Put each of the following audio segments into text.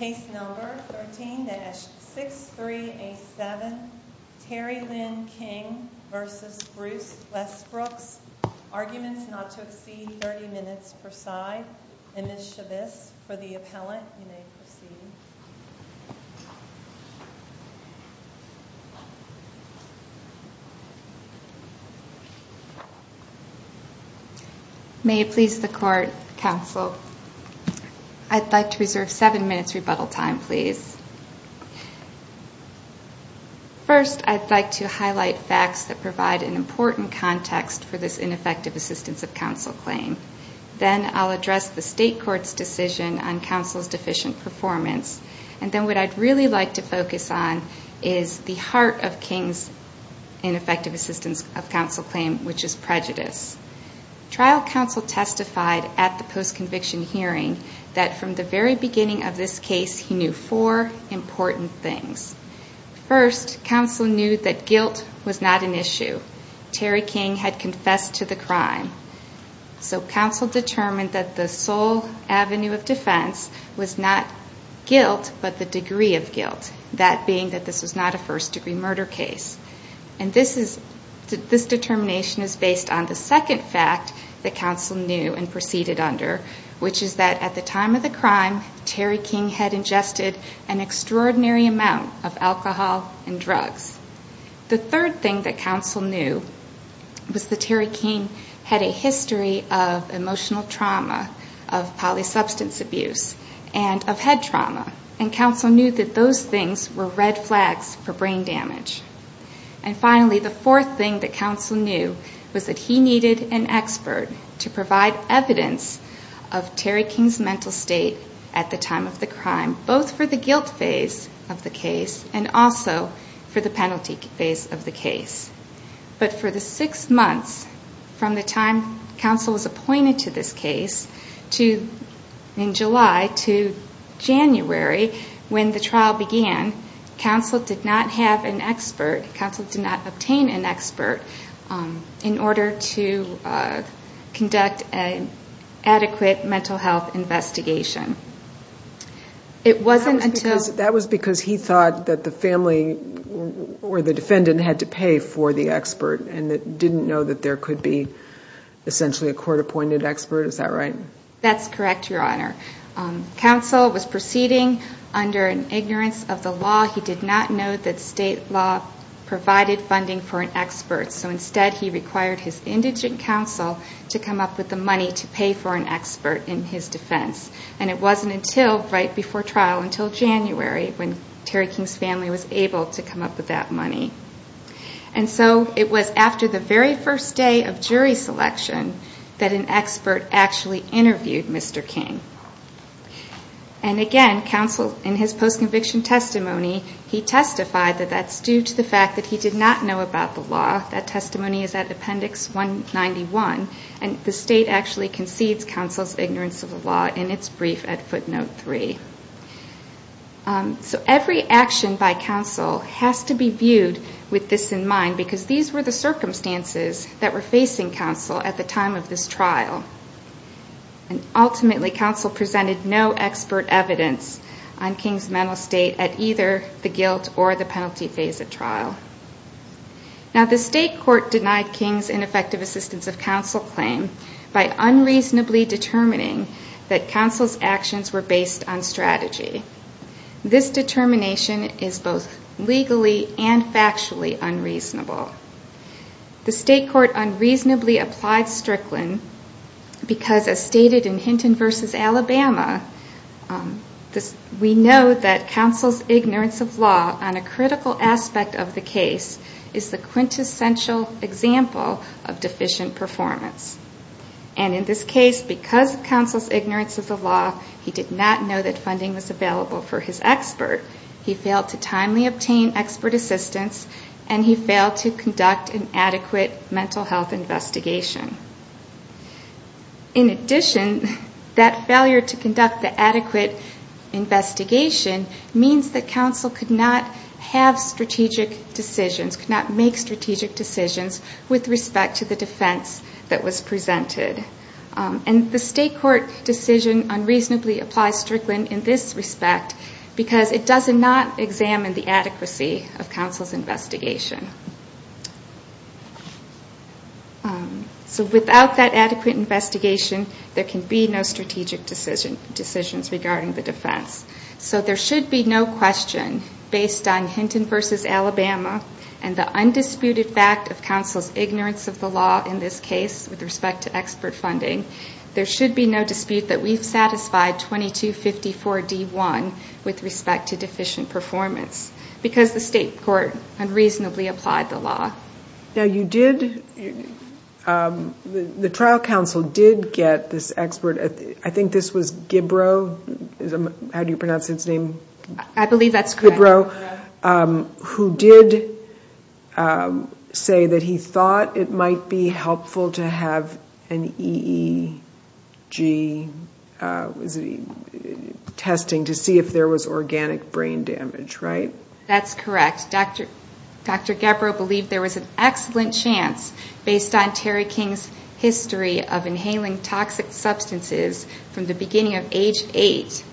Case number 13-6387 Terry Lynn King v. Bruce Westbrooks Arguments not to exceed 30 minutes per side. Ms. Chavez, for the appellant, you may proceed. May it please the court, counsel. I'd like to reserve seven minutes rebuttal time, please. First, I'd like to highlight facts that provide an important context for this ineffective assistance of counsel claim. Then I'll address the state court's decision on counsel's deficient performance. And then what I'd really like to focus on is the heart of King's ineffective assistance of counsel claim, which is prejudice. Trial counsel testified at the post-conviction hearing that from the very beginning of this case, he knew four important things. First, counsel knew that guilt was not an issue. Terry King had confessed to the crime. So counsel determined that the sole avenue of defense was not guilt, but the degree of guilt, that being that this was not a first-degree murder case. And this determination is based on the second fact that counsel knew and proceeded under, which is that at the time of the crime, Terry King had ingested an extraordinary amount of alcohol and drugs. The third thing that counsel knew was that Terry King had a history of emotional trauma, of polysubstance abuse, and of head trauma. And counsel knew that those things were red flags for brain damage. And finally, the fourth thing that counsel knew was that he needed an expert to provide evidence of Terry King's mental state at the time of the crime, both for the guilt phase of the case and also for the penalty phase of the case. But for the six months from the time counsel was appointed to this case in July to January, when the trial began, counsel did not have an expert, counsel did not obtain an expert, in order to conduct an adequate mental health investigation. That was because he thought that the family or the defendant had to pay for the expert and didn't know that there could be essentially a court-appointed expert, is that right? That's correct, Your Honor. Counsel was proceeding under an ignorance of the law. He did not know that state law provided funding for an expert, so instead he required his indigent counsel to come up with the money to pay for an expert in his defense. And it wasn't until right before trial, until January, when Terry King's family was able to come up with that money. And so it was after the very first day of jury selection that an expert actually interviewed Mr. King. And again, in his post-conviction testimony, he testified that that's due to the fact that he did not know about the law. And we also saw that testimony in Appendix 191, and the state actually concedes counsel's ignorance of the law in its brief at Footnote 3. So every action by counsel has to be viewed with this in mind, because these were the circumstances that were facing counsel at the time of this trial. And ultimately, counsel presented no expert evidence on King's mental state at either the guilt or the penalty phase of trial. Now, the state court denied King's ineffective assistance of counsel claim by unreasonably determining that counsel's actions were based on strategy. This determination is both legally and factually unreasonable. The state court unreasonably applied Strickland because, as stated in Hinton v. Alabama, we know that counsel's ignorance of law on a critical aspect of the case is the quintessential example of deficient performance. And in this case, because of counsel's ignorance of the law, he did not know that funding was available for his expert. He failed to timely obtain expert assistance, and he failed to conduct an adequate mental health investigation. In addition, that failure to conduct the adequate investigation means that counsel could not have strategic decisions, could not make strategic decisions with respect to the defense that was presented. And the state court's decision unreasonably applies Strickland in this respect because it does not examine the adequacy of counsel's investigation. So without that adequate investigation, there can be no strategic decisions regarding the defense. So there should be no question, based on Hinton v. Alabama and the undisputed fact of counsel's ignorance of the law in this case with respect to expert funding, there should be no dispute that we've satisfied 2254-D1 with respect to deficient performance because the state court unreasonably applied the law. Now you did, the trial counsel did get this expert, I think this was Gibbro, how do you pronounce his name? I believe that's correct. I believe that's correct. It was Gibbro who did say that he thought it might be helpful to have an EEG testing to see if there was organic brain damage, right? That's correct. Dr. Gibbro believed there was an excellent chance, based on Terry King's history of inhaling toxic substances from the beginning of age eight,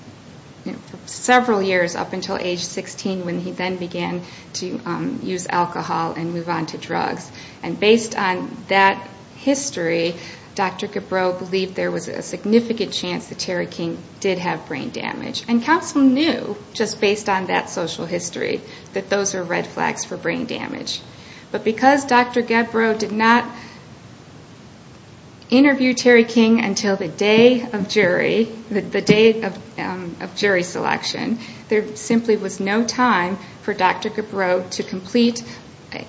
several years up until age 16, when he then began to use alcohol and move on to drugs. And based on that history, Dr. Gibbro believed there was a significant chance that Terry King did have brain damage. And counsel knew, just based on that social history, that those are red flags for brain damage. But because Dr. Gibbro did not interview Terry King until the day of jury selection, there simply was no time for Dr. Gibbro to complete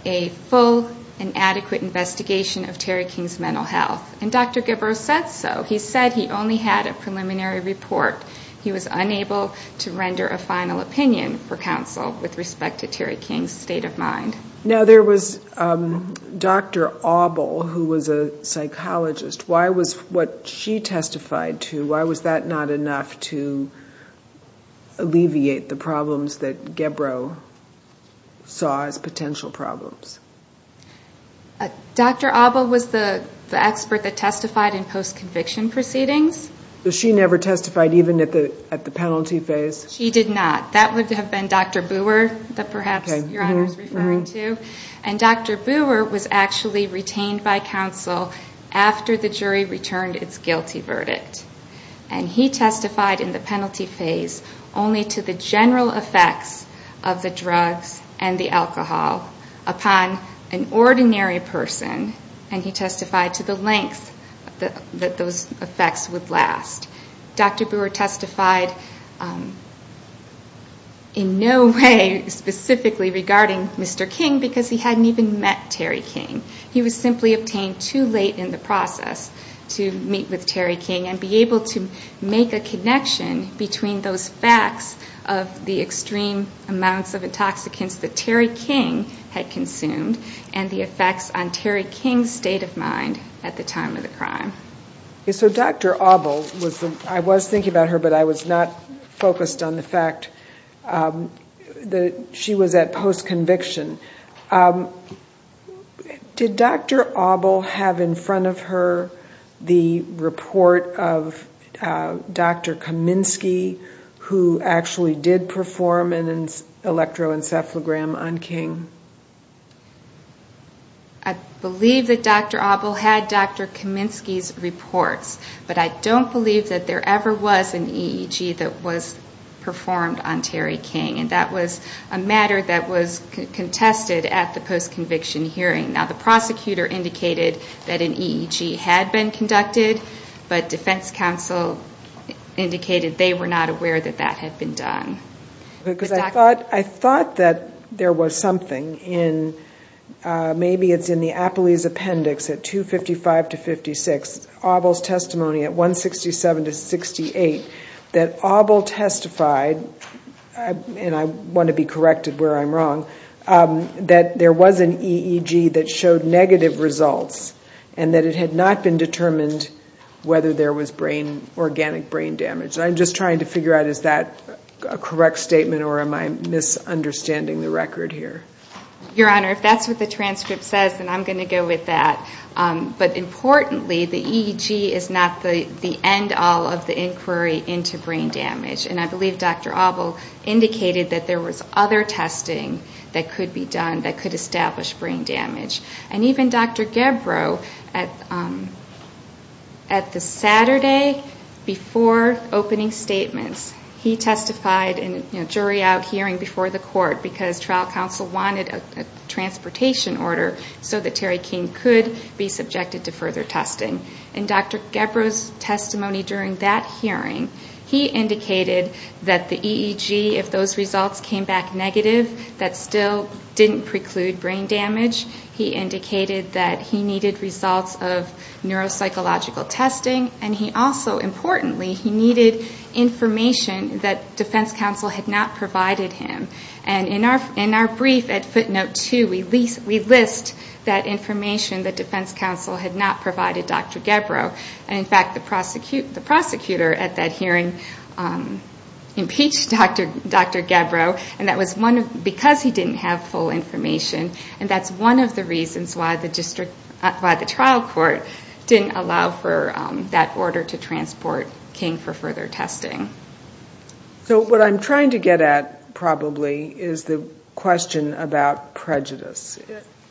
a full and adequate investigation of Terry King's mental health. And Dr. Gibbro said so. He said he only had a preliminary report. He was unable to render a final opinion for counsel with respect to Terry King's state of mind. Now, there was Dr. Abel, who was a psychologist. Why was what she testified to, why was that not enough to alleviate the problems that Gibbro saw as potential problems? Dr. Abel was the expert that testified in post-conviction proceedings. So she never testified even at the penalty phase? She did not. That would have been Dr. Booher that perhaps you're referring to. And Dr. Booher was actually retained by counsel after the jury returned its guilty verdict. And he testified in the penalty phase only to the general effects of the drug and the alcohol upon an ordinary person. And he testified to the length that those effects would last. Dr. Booher testified in no way specifically regarding Mr. King because he hadn't even met Terry King. He was simply a pain too late in the process to meet with Terry King and be able to make a connection between those facts of the extreme amounts of intoxicants that Terry King had consumed and the effects on Terry King's state of mind at the time of the crime. So Dr. Abel, I was thinking about her, but I was not focused on the fact that she was at post-conviction. Did Dr. Abel have in front of her the report of Dr. Kaminsky, who actually did perform an electroencephalogram on King? I believe that Dr. Abel had Dr. Kaminsky's report, but I don't believe that there ever was an EEG that was performed on Terry King. That was a matter that was contested at the post-conviction hearing. Now, the prosecutor indicated that an EEG had been conducted, but defense counsel indicated they were not aware that that had been done. I thought that there was something in, maybe it's in the APELY's appendix at 255-56, Abel's testimony at 167-68, that Abel testified, and I want to be corrected where I'm wrong, that there was an EEG that showed negative results, and that it had not been determined whether there was organic brain damage. I'm just trying to figure out, is that a correct statement, or am I misunderstanding the record here? Your Honor, if that's what the transcript says, then I'm going to go with that. But importantly, the EEG is not the end-all of the inquiry into brain damage, and I believe Dr. Abel indicated that there was other testing that could be done that could establish brain damage. And even Dr. Gebro, at the Saturday before opening statement, he testified in a jury-out hearing before the court, because trial counsel wanted a transportation order so that Terry King could be subjected to further testing. In Dr. Gebro's testimony during that hearing, he indicated that the EEG, if those results came back negative, that still didn't preclude brain damage. He indicated that he needed results of neuropsychological testing, and he also, importantly, he needed information that defense counsel had not provided him. In our brief at footnote 2, we list that information that defense counsel had not provided Dr. Gebro. In fact, the prosecutor at that hearing impeached Dr. Gebro, because he didn't have full information, and that's one of the reasons why the trial court didn't allow for that order to transport King for further testing. So what I'm trying to get at, probably, is the question about prejudice.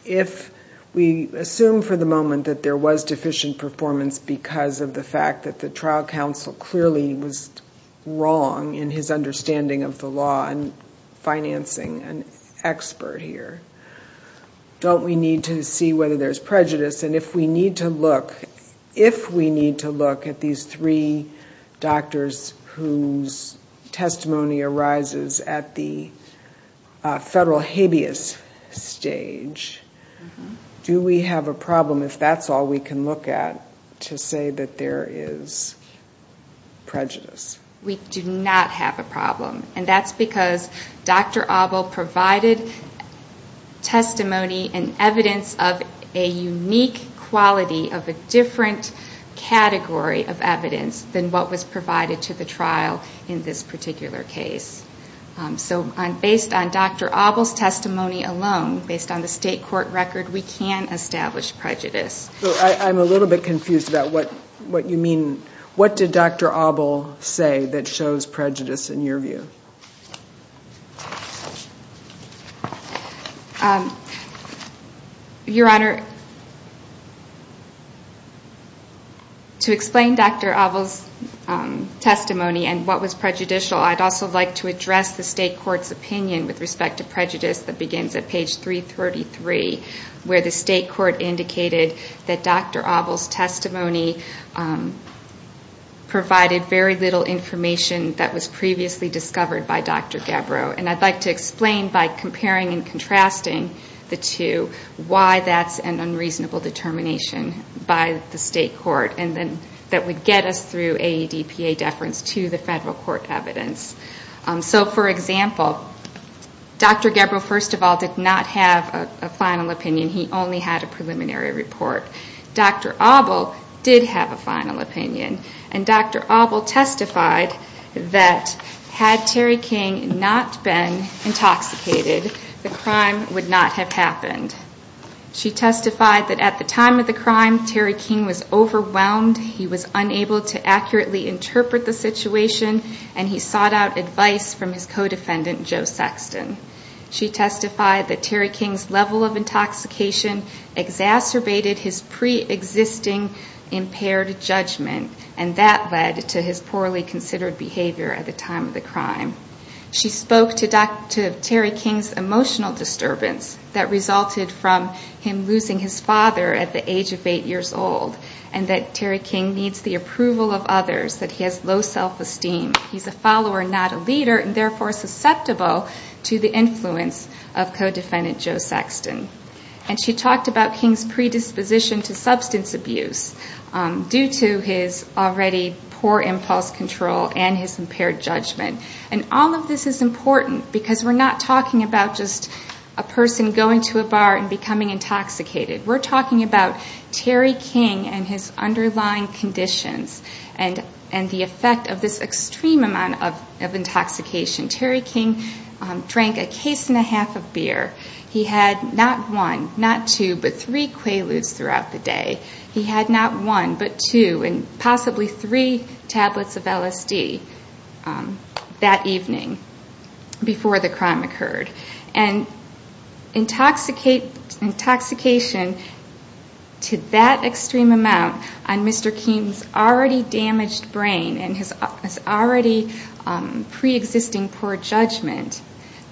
If we assume for the moment that there was deficient performance because of the fact that the trial counsel clearly was wrong in his understanding of the law and financing an expert here, don't we need to see whether there's prejudice? And if we need to look at these three doctors whose testimony arises at the federal habeas stage, do we have a problem, if that's all we can look at, to say that there is prejudice? We do not have a problem. And that's because Dr. Abel provided testimony and evidence of a unique quality of a different category of evidence than what was provided to the trial in this particular case. So based on Dr. Abel's testimony alone, based on the state court record, we can establish prejudice. So I'm a little bit confused about what you mean. What did Dr. Abel say that shows prejudice in your view? Your Honor, to explain Dr. Abel's testimony and what was prejudicial, I'd also like to address the state court's opinion with respect to prejudice that begins at page 333, where the state court indicated that Dr. Abel's testimony provided very little information that was previously discovered by Dr. Gabbro. And I'd like to explain by comparing and contrasting the two why that's an unreasonable determination by the state court that would get us through AEDPA deference to the federal court evidence. So for example, Dr. Gabbro, first of all, did not have a final opinion. He only had a preliminary report. Dr. Abel did have a final opinion. And Dr. Abel testified that had Terry King not been intoxicated, the crime would not have happened. She testified that at the time of the crime, Terry King was overwhelmed. He was unable to accurately interpret the situation, and he sought out advice from his co-defendant, Joe Sexton. She testified that Terry King's level of intoxication exacerbated his pre-existing impaired judgment, and that led to his poorly considered behavior at the time of the crime. She spoke to Terry King's emotional disturbance that resulted from him losing his father at the age of 8 years old, and that Terry King needs the approval of others, that he has low self-esteem. He's a follower, not a leader, and therefore susceptible to the influence of co-defendant Joe Sexton. And she talked about King's predisposition to substance abuse due to his already poor impulse control and his impaired judgment. And all of this is important because we're not talking about just a person going to a bar and becoming intoxicated. We're talking about Terry King and his underlying conditions and the effect of this extreme amount of intoxication. Terry King drank a case and a half of beer. He had not one, not two, but three Quaaludes throughout the day. He had not one, but two, and possibly three tablets of LSD that evening before the crime occurred. And intoxication to that extreme amount on Mr. King's already damaged brain and his already pre-existing poor judgment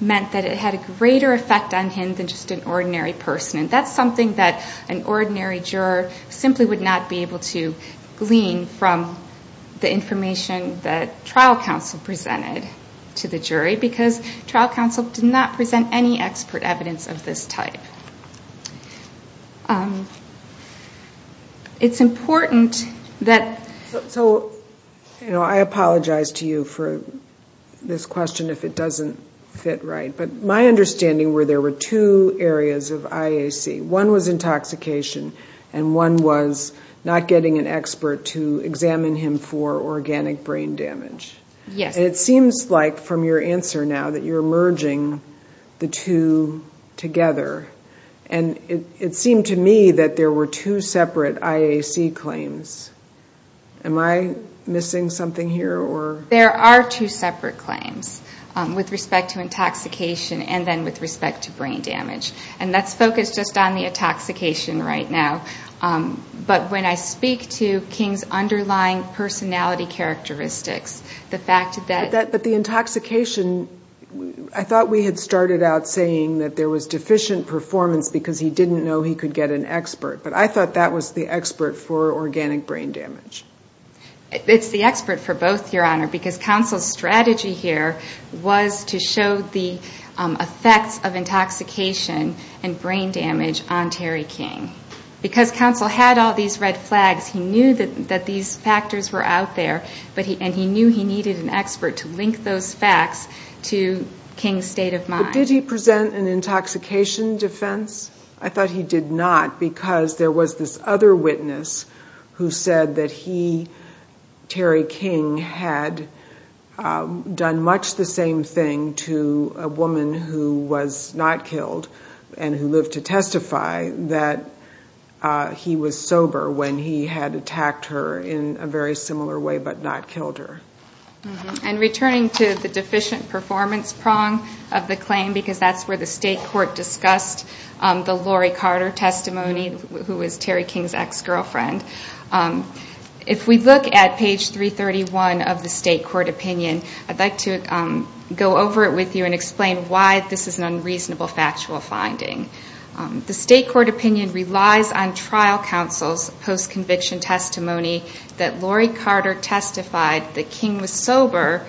meant that it had a greater effect on him than just an ordinary person. And that's something that an ordinary juror simply would not be able to glean from the information that trial counsel presented to the jury because trial counsel did not present any expert evidence of this type. It's important that... So, I apologize to you for this question if it doesn't fit right. But my understanding were there were two areas of IAC. One was intoxication and one was not getting an expert to examine him for organic brain damage. It seems like from your answer now that you're merging the two together. And it seemed to me that there were two separate IAC claims. Am I missing something here? There are two separate claims with respect to intoxication and then with respect to brain damage. And let's focus just on the intoxication right now. But when I speak to King's underlying personality characteristics, the fact that... But the intoxication, I thought we had started out saying that there was deficient performance because he didn't know he could get an expert. But I thought that was the expert for organic brain damage. Because counsel's strategy here was to show the effects of intoxication and brain damage on Terry King. Because counsel had all these red flags, he knew that these factors were out there and he knew he needed an expert to link those facts to King's state of mind. But did he present an intoxication defense? I thought he did not because there was this other witness who said that he, Terry King, had done much the same thing to a woman who was not killed and who lived to testify that he was sober when he had attacked her in a very similar way but not killed her. And returning to the deficient performance prong of the claim, because that's where the state court discussed the Laurie Carter testimony, who was Terry King's ex-girlfriend. If we look at page 331 of the state court opinion, I'd like to go over it with you and explain why this is an unreasonable factual finding. The state court opinion relies on trial counsel's post-conviction testimony that Laurie Carter testified that King was sober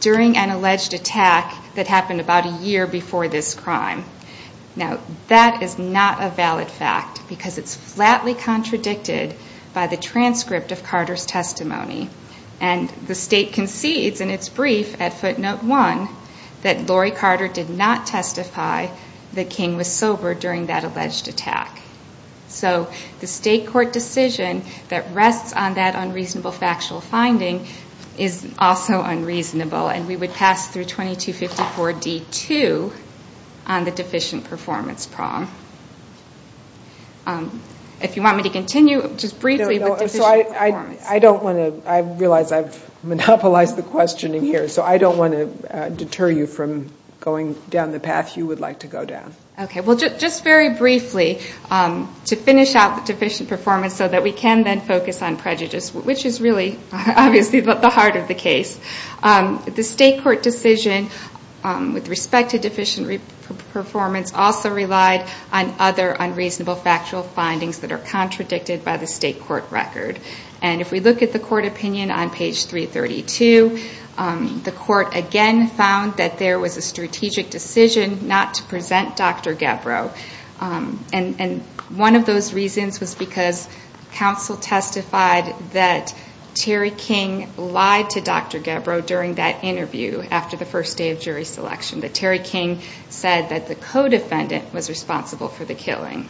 during an alleged attack that happened about a year before this crime. Now, that is not a valid fact because it's flatly contradicted by the transcript of Carter's testimony. And the state concedes in its brief at footnote 1 that Laurie Carter did not testify that King was sober during that alleged attack. So the state court decision that rests on that unreasonable factual finding is also unreasonable and we would pass through 2254D2 on the deficient performance prong. If you want me to continue just briefly with the deficient performance. I realize I've monopolized the questioning here, so I don't want to deter you from going down the path you would like to go down. Okay, well just very briefly to finish out the deficient performance so that we can then focus on prejudice, which is really obviously at the heart of the case. The state court decision with respect to deficient performance also relied on other unreasonable factual findings that are contradicted by the state court record. And if we look at the court opinion on page 332, the court again found that there was a strategic decision not to present Dr. Gebro. And one of those reasons was because counsel testified that Terry King lied to Dr. Gebro during that interview after the first day of jury selection. That Terry King said that the co-defendant was responsible for the killing.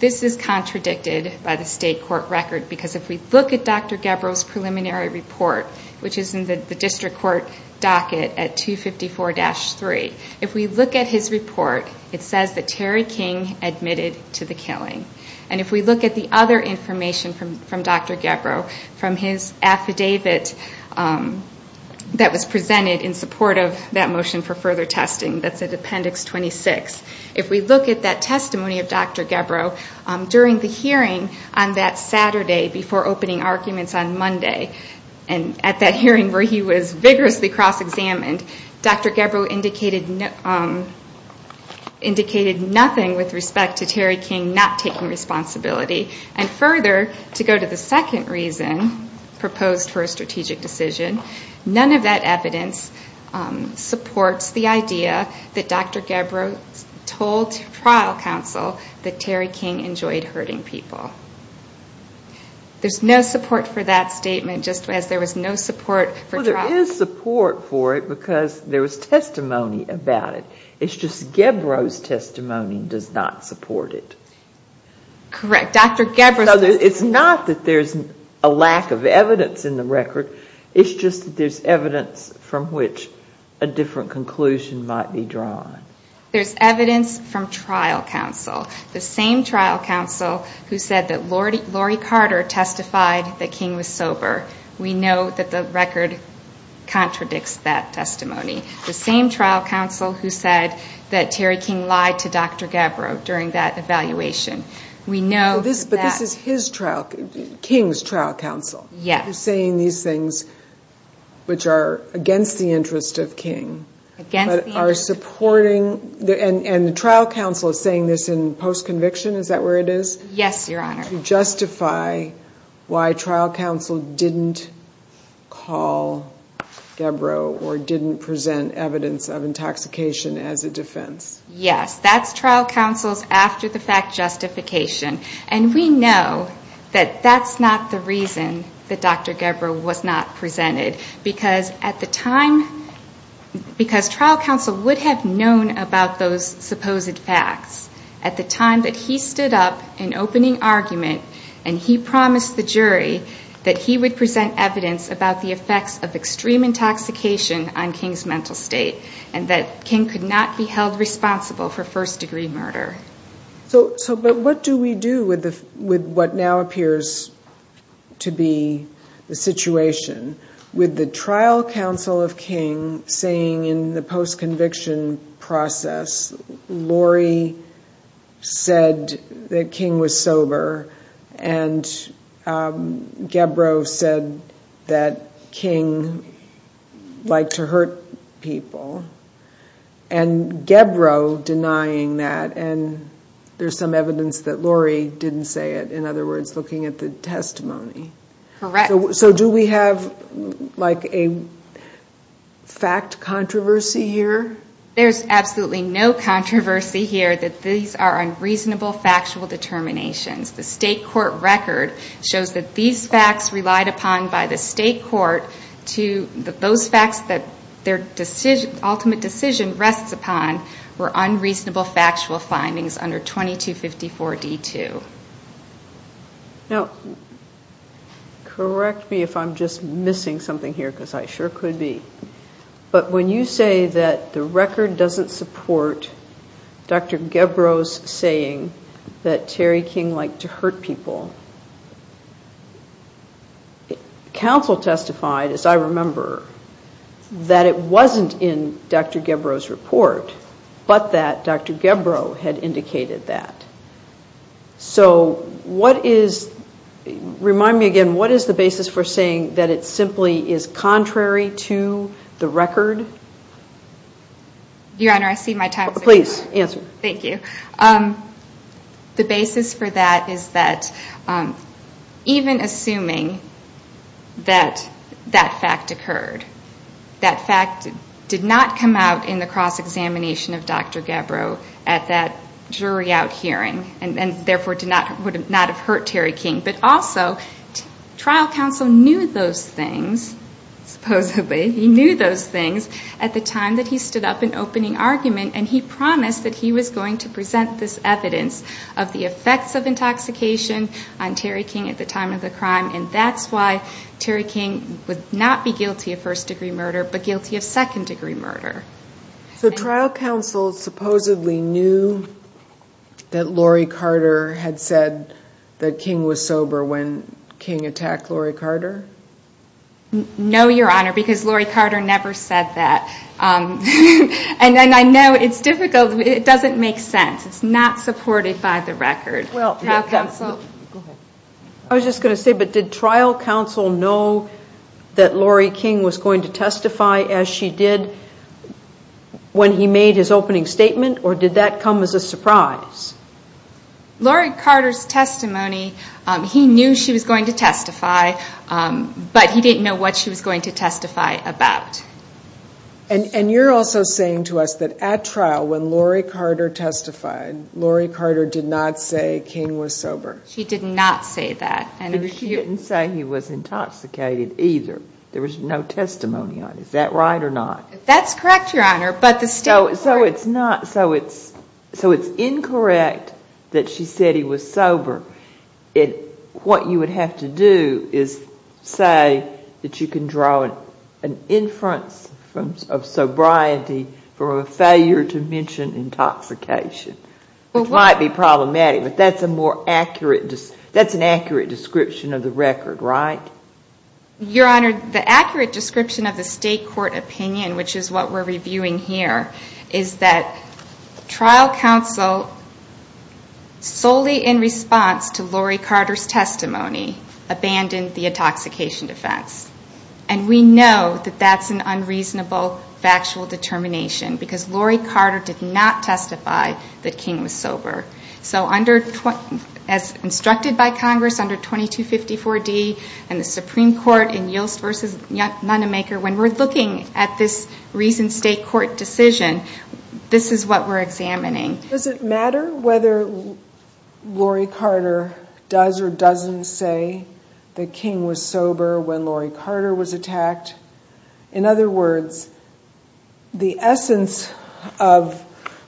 This is contradicted by the state court record because if we look at Dr. Gebro's preliminary report, which is in the district court docket at 254-3, if we look at his report, it says that Terry King admitted to the killing. And if we look at the other information from Dr. Gebro, from his affidavit that was presented in support of that motion for further testing, that's in appendix 26, if we look at that testimony of Dr. Gebro, during the hearing on that Saturday before opening arguments on Monday, and at that hearing where he was vigorously cross-examined, Dr. Gebro indicated nothing with respect to Terry King not taking responsibility. And further, to go to the second reason proposed for a strategic decision, none of that evidence supports the idea that Dr. Gebro told trial counsel that Terry King enjoyed hurting people. There's no support for that statement just as there was no support for trial counsel. Well, there is support for it because there was testimony about it. It's just Gebro's testimony does not support it. Correct. Dr. Gebro. It's not that there's a lack of evidence in the record. It's just that there's evidence from which a different conclusion might be drawn. There's evidence from trial counsel, the same trial counsel who said that Laurie Carter testified that King was sober. We know that the record contradicts that testimony. The same trial counsel who said that Terry King lied to Dr. Gebro during that evaluation. We know that. But this is his trial, King's trial counsel. Yes. You're saying these things which are against the interest of King. And the trial counsel is saying this in post-conviction, is that where it is? Yes, Your Honor. To justify why trial counsel didn't call Gebro or didn't present evidence of intoxication as a defense. Yes, that's trial counsel's after-the-fact justification. And we know that that's not the reason that Dr. Gebro was not presented. Because at the time, because trial counsel would have known about those supposed facts at the time that he stood up in opening argument and he promised the jury that he would present evidence about the effects of extreme intoxication on King's mental state and that King could not be held responsible for first-degree murder. So what do we do with what now appears to be the situation with the trial counsel of King saying in the post-conviction process, Laurie said that King was sober and Gebro said that King liked to hurt people and Gebro denying that and there's some evidence that Laurie didn't say it. In other words, looking at the testimony. Correct. So do we have like a fact controversy here? There's absolutely no controversy here. These are unreasonable factual determinations. The state court record shows that these facts relied upon by the state court that those facts that their ultimate decision rests upon were unreasonable factual findings under 2254D2. Now, correct me if I'm just missing something here because I sure could be. But when you say that the record doesn't support Dr. Gebro's saying that Terry King liked to hurt people, counsel testified, as I remember, that it wasn't in Dr. Gebro's report but that Dr. Gebro had indicated that. So what is, remind me again, what is the basis for saying that it simply is contrary to the record? Your Honor, I cede my time. Please, answer. Thank you. The basis for that is that even assuming that that fact occurred, that fact did not come out in the cross-examination of Dr. Gebro at that jury out hearing and therefore would not have hurt Terry King, but also trial counsel knew those things, supposedly. He knew those things at the time that he stood up in opening argument and he promised that he was going to present this evidence of the effects of intoxication on Terry King at the time of the crime, and that's why Terry King would not be guilty of first-degree murder but guilty of second-degree murder. So trial counsel supposedly knew that Laurie Carter had said that King was sober when King attacked Laurie Carter? No, Your Honor, because Laurie Carter never said that. And then I know it's difficult, but it doesn't make sense. It's not supported by the record. Well, I was just going to say, but did trial counsel know that Laurie King was going to testify as she did when he made his opening statement, or did that come as a surprise? Laurie Carter's testimony, he knew she was going to testify, but he didn't know what she was going to testify about. And you're also saying to us that at trial, when Laurie Carter testified, Laurie Carter did not say King was sober. She did not say that. And she didn't say he was intoxicated either. There was no testimony on it. Is that right or not? That's correct, Your Honor, but still. So it's incorrect that she said he was sober. What you would have to do is say that you can draw an inference of sobriety for a failure to mention intoxication, which might be problematic, but that's an accurate description of the record, right? Your Honor, the accurate description of the state court opinion, which is what we're reviewing here, is that trial counsel, solely in response to Laurie Carter's testimony, abandoned the intoxication defense. And we know that that's an unreasonable factual determination because Laurie Carter did not testify that King was sober. So as instructed by Congress under 2254D in the Supreme Court when we're looking at this recent state court decision, this is what we're examining. Does it matter whether Laurie Carter does or doesn't say that King was sober when Laurie Carter was attacked? In other words, the essence of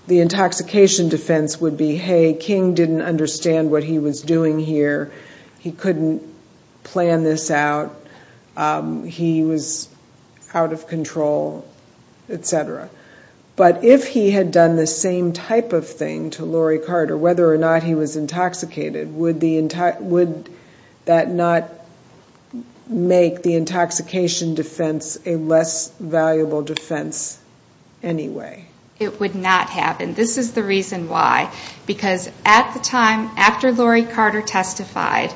the intoxication defense would be, hey, King didn't understand what he was doing here. He couldn't plan this out. He was out of control, et cetera. But if he had done the same type of thing to Laurie Carter, whether or not he was intoxicated, would that not make the intoxication defense a less valuable defense anyway? It would not happen. This is the reason why. Because at the time after Laurie Carter testified,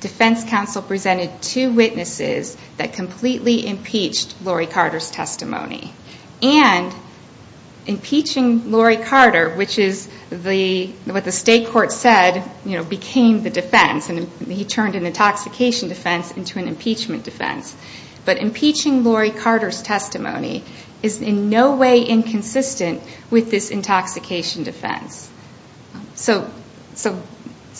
defense counsel presented two witnesses that completely impeached Laurie Carter's testimony. And impeaching Laurie Carter, which is what the state court said became the defense, and he turned an intoxication defense into an impeachment defense. But impeaching Laurie Carter's testimony is in no way inconsistent with this intoxication defense. So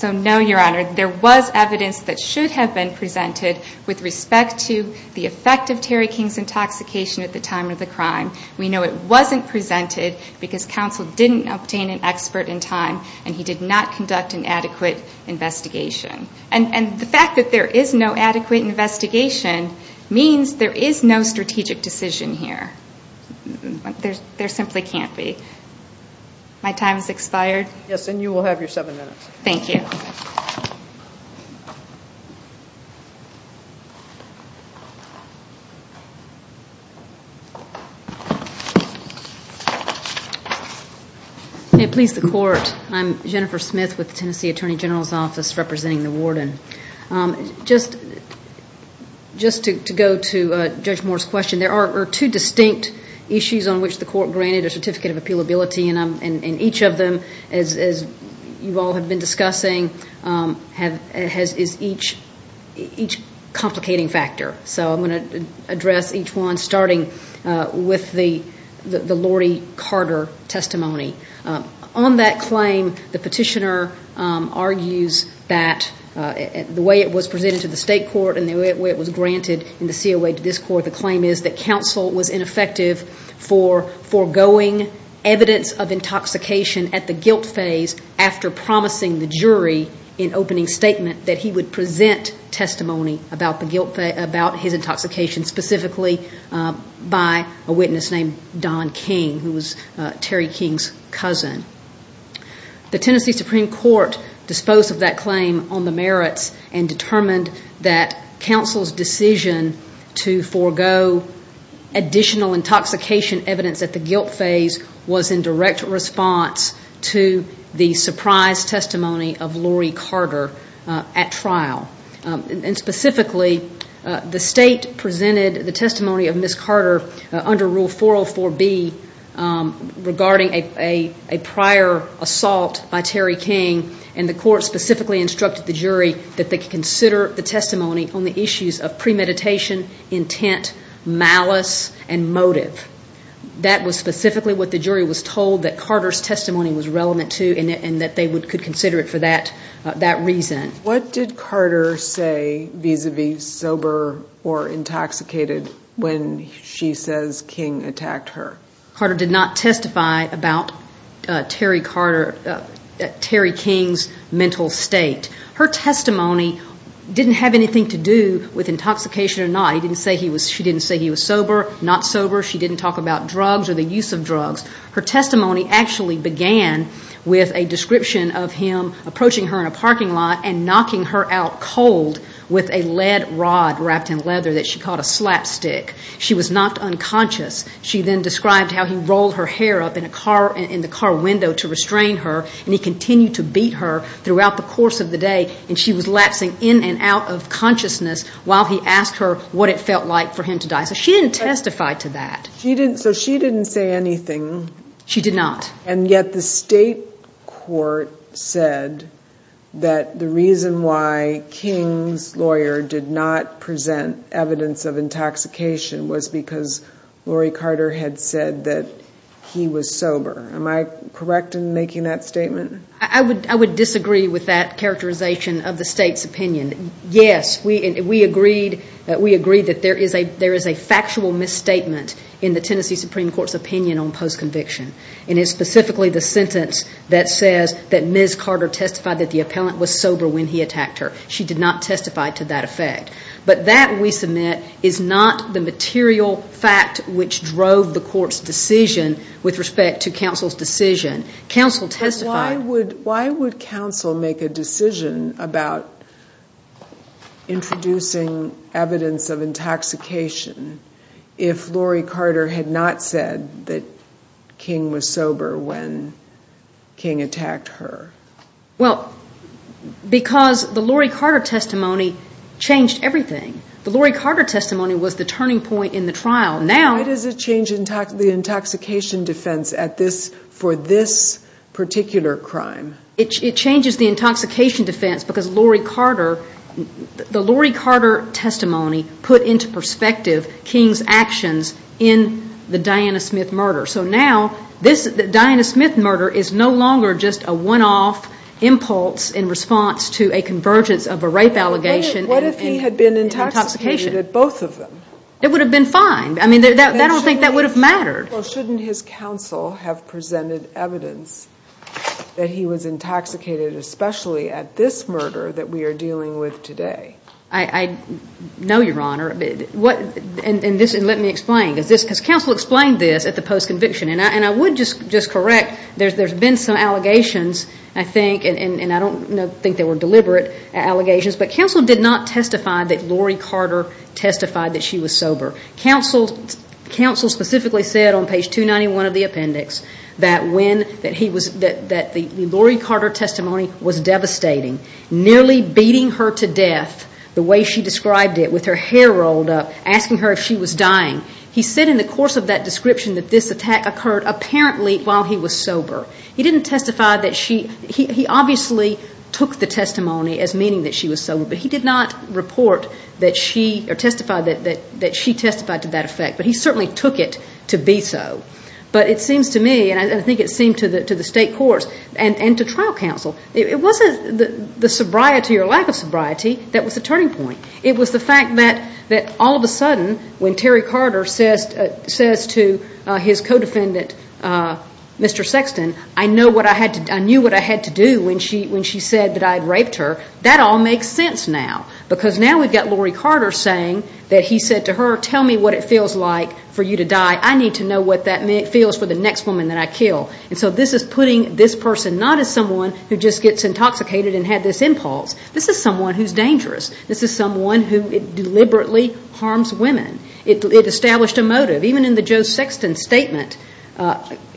no, Your Honor, there was evidence that should have been presented with respect to the effect of Terry King's intoxication at the time of the crime. We know it wasn't presented because counsel didn't obtain an expert in time and he did not conduct an adequate investigation. And the fact that there is no adequate investigation means there is no strategic decision here. There simply can't be. My time has expired. Yes, and you will have your seven minutes. Thank you. Hey, police and court. I'm Jennifer Smith with the Tennessee Attorney General's Office representing the warden. Just to go to Judge Moore's question, there are two distinct issues on which the court granted a certificate of appealability and each of them, as you all have been discussing, is each complicating factor. So I'm going to address each one starting with the Laurie Carter testimony. On that claim, the petitioner argues that the way it was presented to the state court and the way it was granted in the COA to this court, the claim is that counsel was ineffective for foregoing evidence of intoxication at the guilt phase after promising the jury in opening statement that he would present testimony about his intoxication, specifically by a witness named Don King, who was Terry King's cousin. The Tennessee Supreme Court disposed of that claim on the merits and determined that counsel's decision to forego additional intoxication evidence at the guilt phase was in direct response to the surprise testimony of Laurie Carter at trial. Specifically, the state presented the testimony of Ms. Carter under Rule 404B regarding a prior assault by Terry King and the court specifically instructed the jury that they consider the testimony on the issues of premeditation, intent, malice, and motive. That was specifically what the jury was told that Carter's testimony was relevant to and that they could consider it for that reason. What did Carter say vis-a-vis sober or intoxicated when she says King attacked her? Carter did not testify about Terry King's mental state. Her testimony didn't have anything to do with intoxication or not. She didn't say he was sober, not sober. She didn't talk about drugs or the use of drugs. Her testimony actually began with a description of him approaching her in a parking lot and knocking her out cold with a lead rod wrapped in leather that she called a slapstick. She was not unconscious. She then described how he rolled her hair up in the car window to restrain her and he continued to beat her throughout the course of the day and she was lapsing in and out of consciousness while he asked her what it felt like for him to die. So she didn't testify to that. So she didn't say anything. She did not. And yet the state court said that the reason why King's lawyer did not present evidence of intoxication was because Lori Carter had said that he was sober. Am I correct in making that statement? I would disagree with that characterization of the state's opinion. Yes, we agreed that there is a factual misstatement in the Tennessee Supreme Court's opinion on post-conviction and it's specifically the sentence that says that Ms. Carter testified that the appellant was sober when he attacked her. She did not testify to that effect. But that, we submit, is not the material fact which drove the court's decision with respect to counsel's decision. Counsel testified. Why would counsel make a decision about introducing evidence of intoxication if Lori Carter had not said that King was sober when King attacked her? Well, because the Lori Carter testimony changed everything. The Lori Carter testimony was the turning point in the trial. Why does it change the intoxication defense for this particular crime? It changes the intoxication defense because the Lori Carter testimony put into perspective King's actions in the Diana Smith murder. So now, the Diana Smith murder is no longer just a one-off impulse in response to a convergence of a rape allegation and intoxication. What if he had been intoxicated, both of them? That would have been fine. I mean, I don't think that would have mattered. Well, shouldn't his counsel have presented evidence that he was intoxicated, especially at this murder that we are dealing with today? I know, Your Honor. And let me explain. Counsel explained this at the post-conviction, and I would just correct. There's been some allegations, I think, and I don't think they were deliberate allegations, but counsel did not testify that Lori Carter testified that she was sober. Counsel specifically said on page 291 of the appendix that the Lori Carter testimony was devastating, nearly beating her to death the way she described it with her hair rolled up, asking her if she was dying. He said in the course of that description that this attack occurred apparently while he was sober. He didn't testify that she – he obviously took the testimony as meaning that she was sober, but he did not report that she – or testify that she testified to that effect. But he certainly took it to be so. But it seems to me, and I think it seemed to the state courts and to trial counsel, it wasn't the sobriety or lack of sobriety that was the turning point. It was the fact that all of a sudden when Terry Carter says to his co-defendant, Mr. Sexton, I knew what I had to do when she said that I had raped her. That all makes sense now because now we've got Lori Carter saying that he said to her, tell me what it feels like for you to die. I need to know what that feels for the next woman that I kill. And so this is putting this person not as someone who just gets intoxicated and had this impulse. This is someone who's dangerous. This is someone who deliberately harms women. It established a motive. Even in the Joe Sexton statement,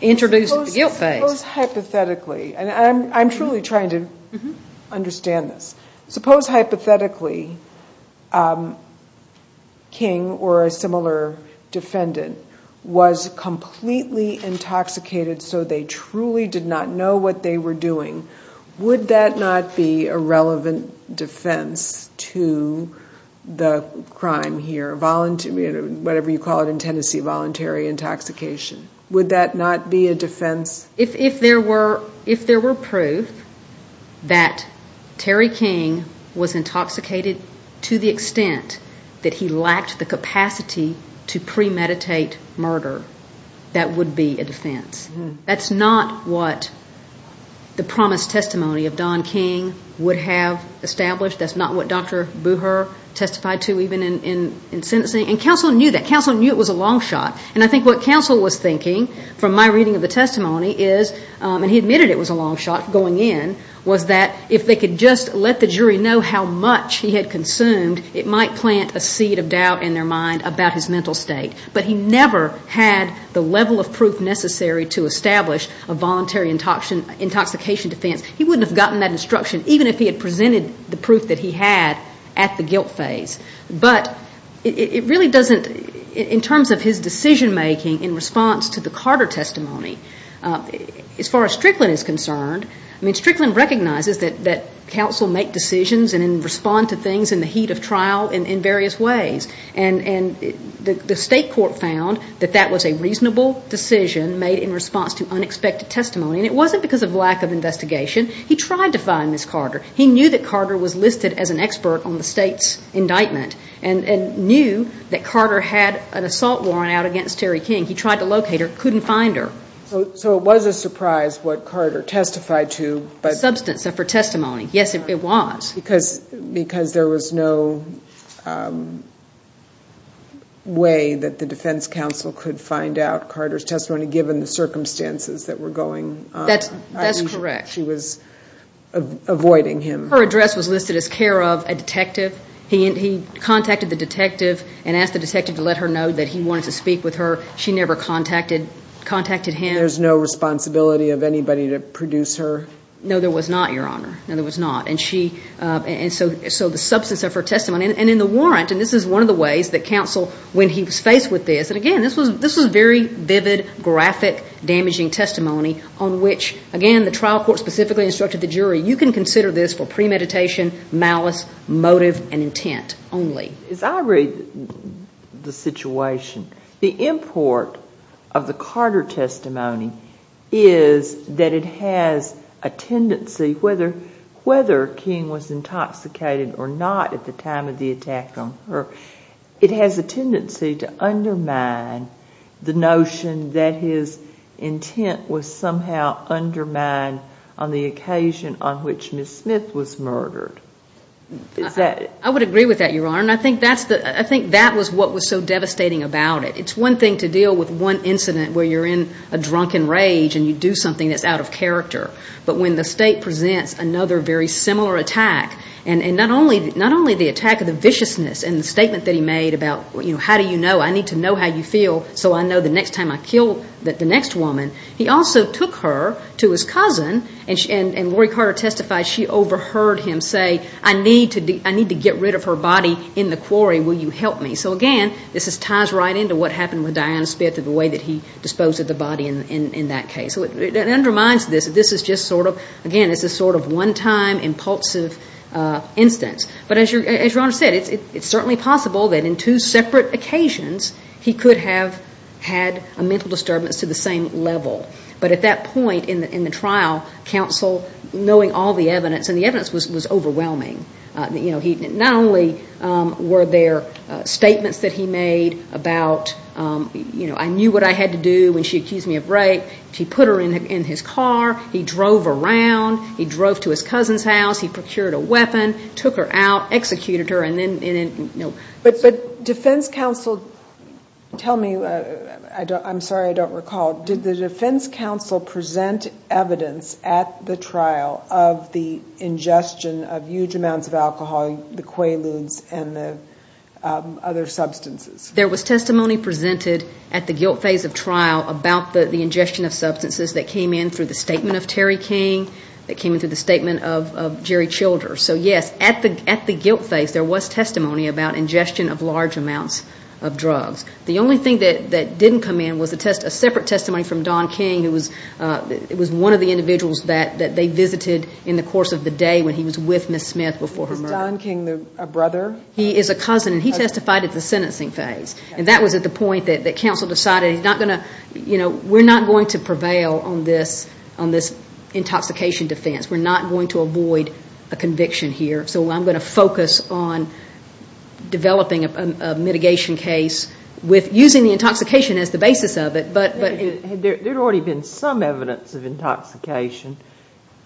introduces the guilt phase. Suppose hypothetically – and I'm truly trying to understand this. Suppose hypothetically King or a similar defendant was completely intoxicated so they truly did not know what they were doing. Would that not be a relevant defense to the crime here, whatever you call it in Tennessee, voluntary intoxication? Would that not be a defense? If there were proof that Terry King was intoxicated to the extent that he lacked the capacity to premeditate murder, that would be a defense. That's not what the promised testimony of Don King would have established. That's not what Dr. Booher testified to even in sentencing. And counsel knew that. Counsel knew it was a long shot. And I think what counsel was thinking from my reading of the testimony is – and he admitted it was a long shot going in – was that if they could just let the jury know how much he had consumed, it might plant a seed of doubt in their mind about his mental state. But he never had the level of proof necessary to establish a voluntary intoxication defense. He wouldn't have gotten that instruction even if he had presented the proof that he had at the guilt stage. But it really doesn't – in terms of his decision making in response to the Carter testimony, as far as Strickland is concerned, I mean, Strickland recognizes that counsel make decisions and respond to things in the heat of trial in various ways. And the state court found that that was a reasonable decision made in response to unexpected testimony. And it wasn't because of lack of investigation. He tried to find Ms. Carter. He knew that Carter was listed as an expert on the state's indictment and knew that Carter had an assault warrant out against Terry King. He tried to locate her, couldn't find her. So it was a surprise what Carter testified to. Substance of her testimony. Yes, it was. Because there was no way that the defense counsel could find out Carter's testimony, given the circumstances that were going on. That's correct. She was avoiding him. Her address was listed as care of a detective. He contacted the detective and asked the detective to let her know that he wanted to speak with her. She never contacted him. There was no responsibility of anybody to produce her? No, there was not, Your Honor. No, there was not. And so the substance of her testimony. And in the warrant, and this is one of the ways that counsel, when he was faced with this, and again, this was very vivid, graphic, damaging testimony on which, again, the trial court specifically instructed the jury, you can consider this for premeditation, malice, motive, and intent only. As I read the situation, the import of the Carter testimony is that it has a tendency, whether King was intoxicated or not at the time of the attack on her, it has a tendency to undermine the notion that his intent was somehow undermined on the occasion on which Ms. Smith was murdered. I would agree with that, Your Honor, and I think that was what was so devastating about it. It's one thing to deal with one incident where you're in a drunken rage and you do something that's out of character. But when the state presents another very similar attack, and not only the attack of the viciousness and the statement that he made about, how do you know, I need to know how you feel so I know the next time I kill the next woman, he also took her to his cousin, and Lori Carter testified she overheard him say, I need to get rid of her body in the quarry, will you help me? So again, this ties right into what happened with Diana Smith and the way that he disposed of the body in that case. So that undermines this. This is just sort of, again, it's a sort of one-time impulsive instance. But as Your Honor said, it's certainly possible that in two separate occasions he could have had a mental disturbance to the same level. But at that point in the trial, counsel, knowing all the evidence, and the evidence was overwhelming, not only were there statements that he made about, I knew what I had to do when she accused me of rape, he put her in his car, he drove around, he drove to his cousin's house, he procured a weapon, took her out, executed her, and then, you know. But defense counsel, tell me, I'm sorry I don't recall, did the defense counsel present evidence at the trial of the ingestion of huge amounts of alcohol, the Quaaludes, and the other substances? There was testimony presented at the guilt phase of trial about the ingestion of substances that came in through the statement of Terry King, that came in through the statement of Jerry Childers. So yes, at the guilt phase, there was testimony about ingestion of large amounts of drugs. The only thing that didn't come in was a separate testimony from Don King, who was one of the individuals that they visited in the course of the day when he was with Ms. Smith before her murder. Is Don King a brother? He is a cousin, and he testified at the sentencing phase, and that was at the point that counsel decided he's not going to, you know, we're not going to prevail on this intoxication defense. We're not going to avoid a conviction here, so I'm going to focus on developing a mitigation case with using the intoxication as the basis of it. But there had already been some evidence of intoxication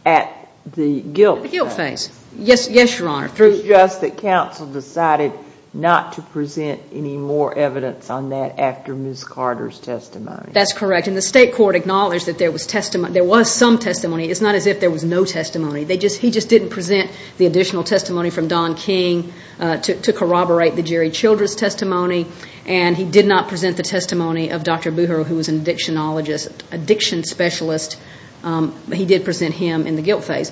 at the guilt phase. The guilt phase. Yes, Your Honor. It was just that counsel decided not to present any more evidence on that after Ms. Carter's testimony. That's correct, and the state court acknowledged that there was testimony. There was some testimony. It's not as if there was no testimony. He just didn't present the additional testimony from Don King to corroborate the Jerry Childers testimony, and he did not present the testimony of Dr. Booher, who was an addiction specialist. He did present him in the guilt phase.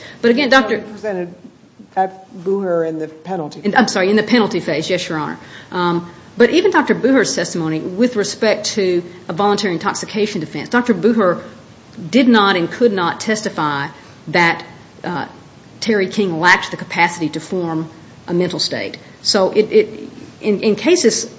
At Booher in the penalty phase. I'm sorry, in the penalty phase. Yes, Your Honor. But even Dr. Booher's testimony with respect to a voluntary intoxication defense, Dr. Booher did not and could not testify that Terry King lacked the capacity to form a mental state. So in cases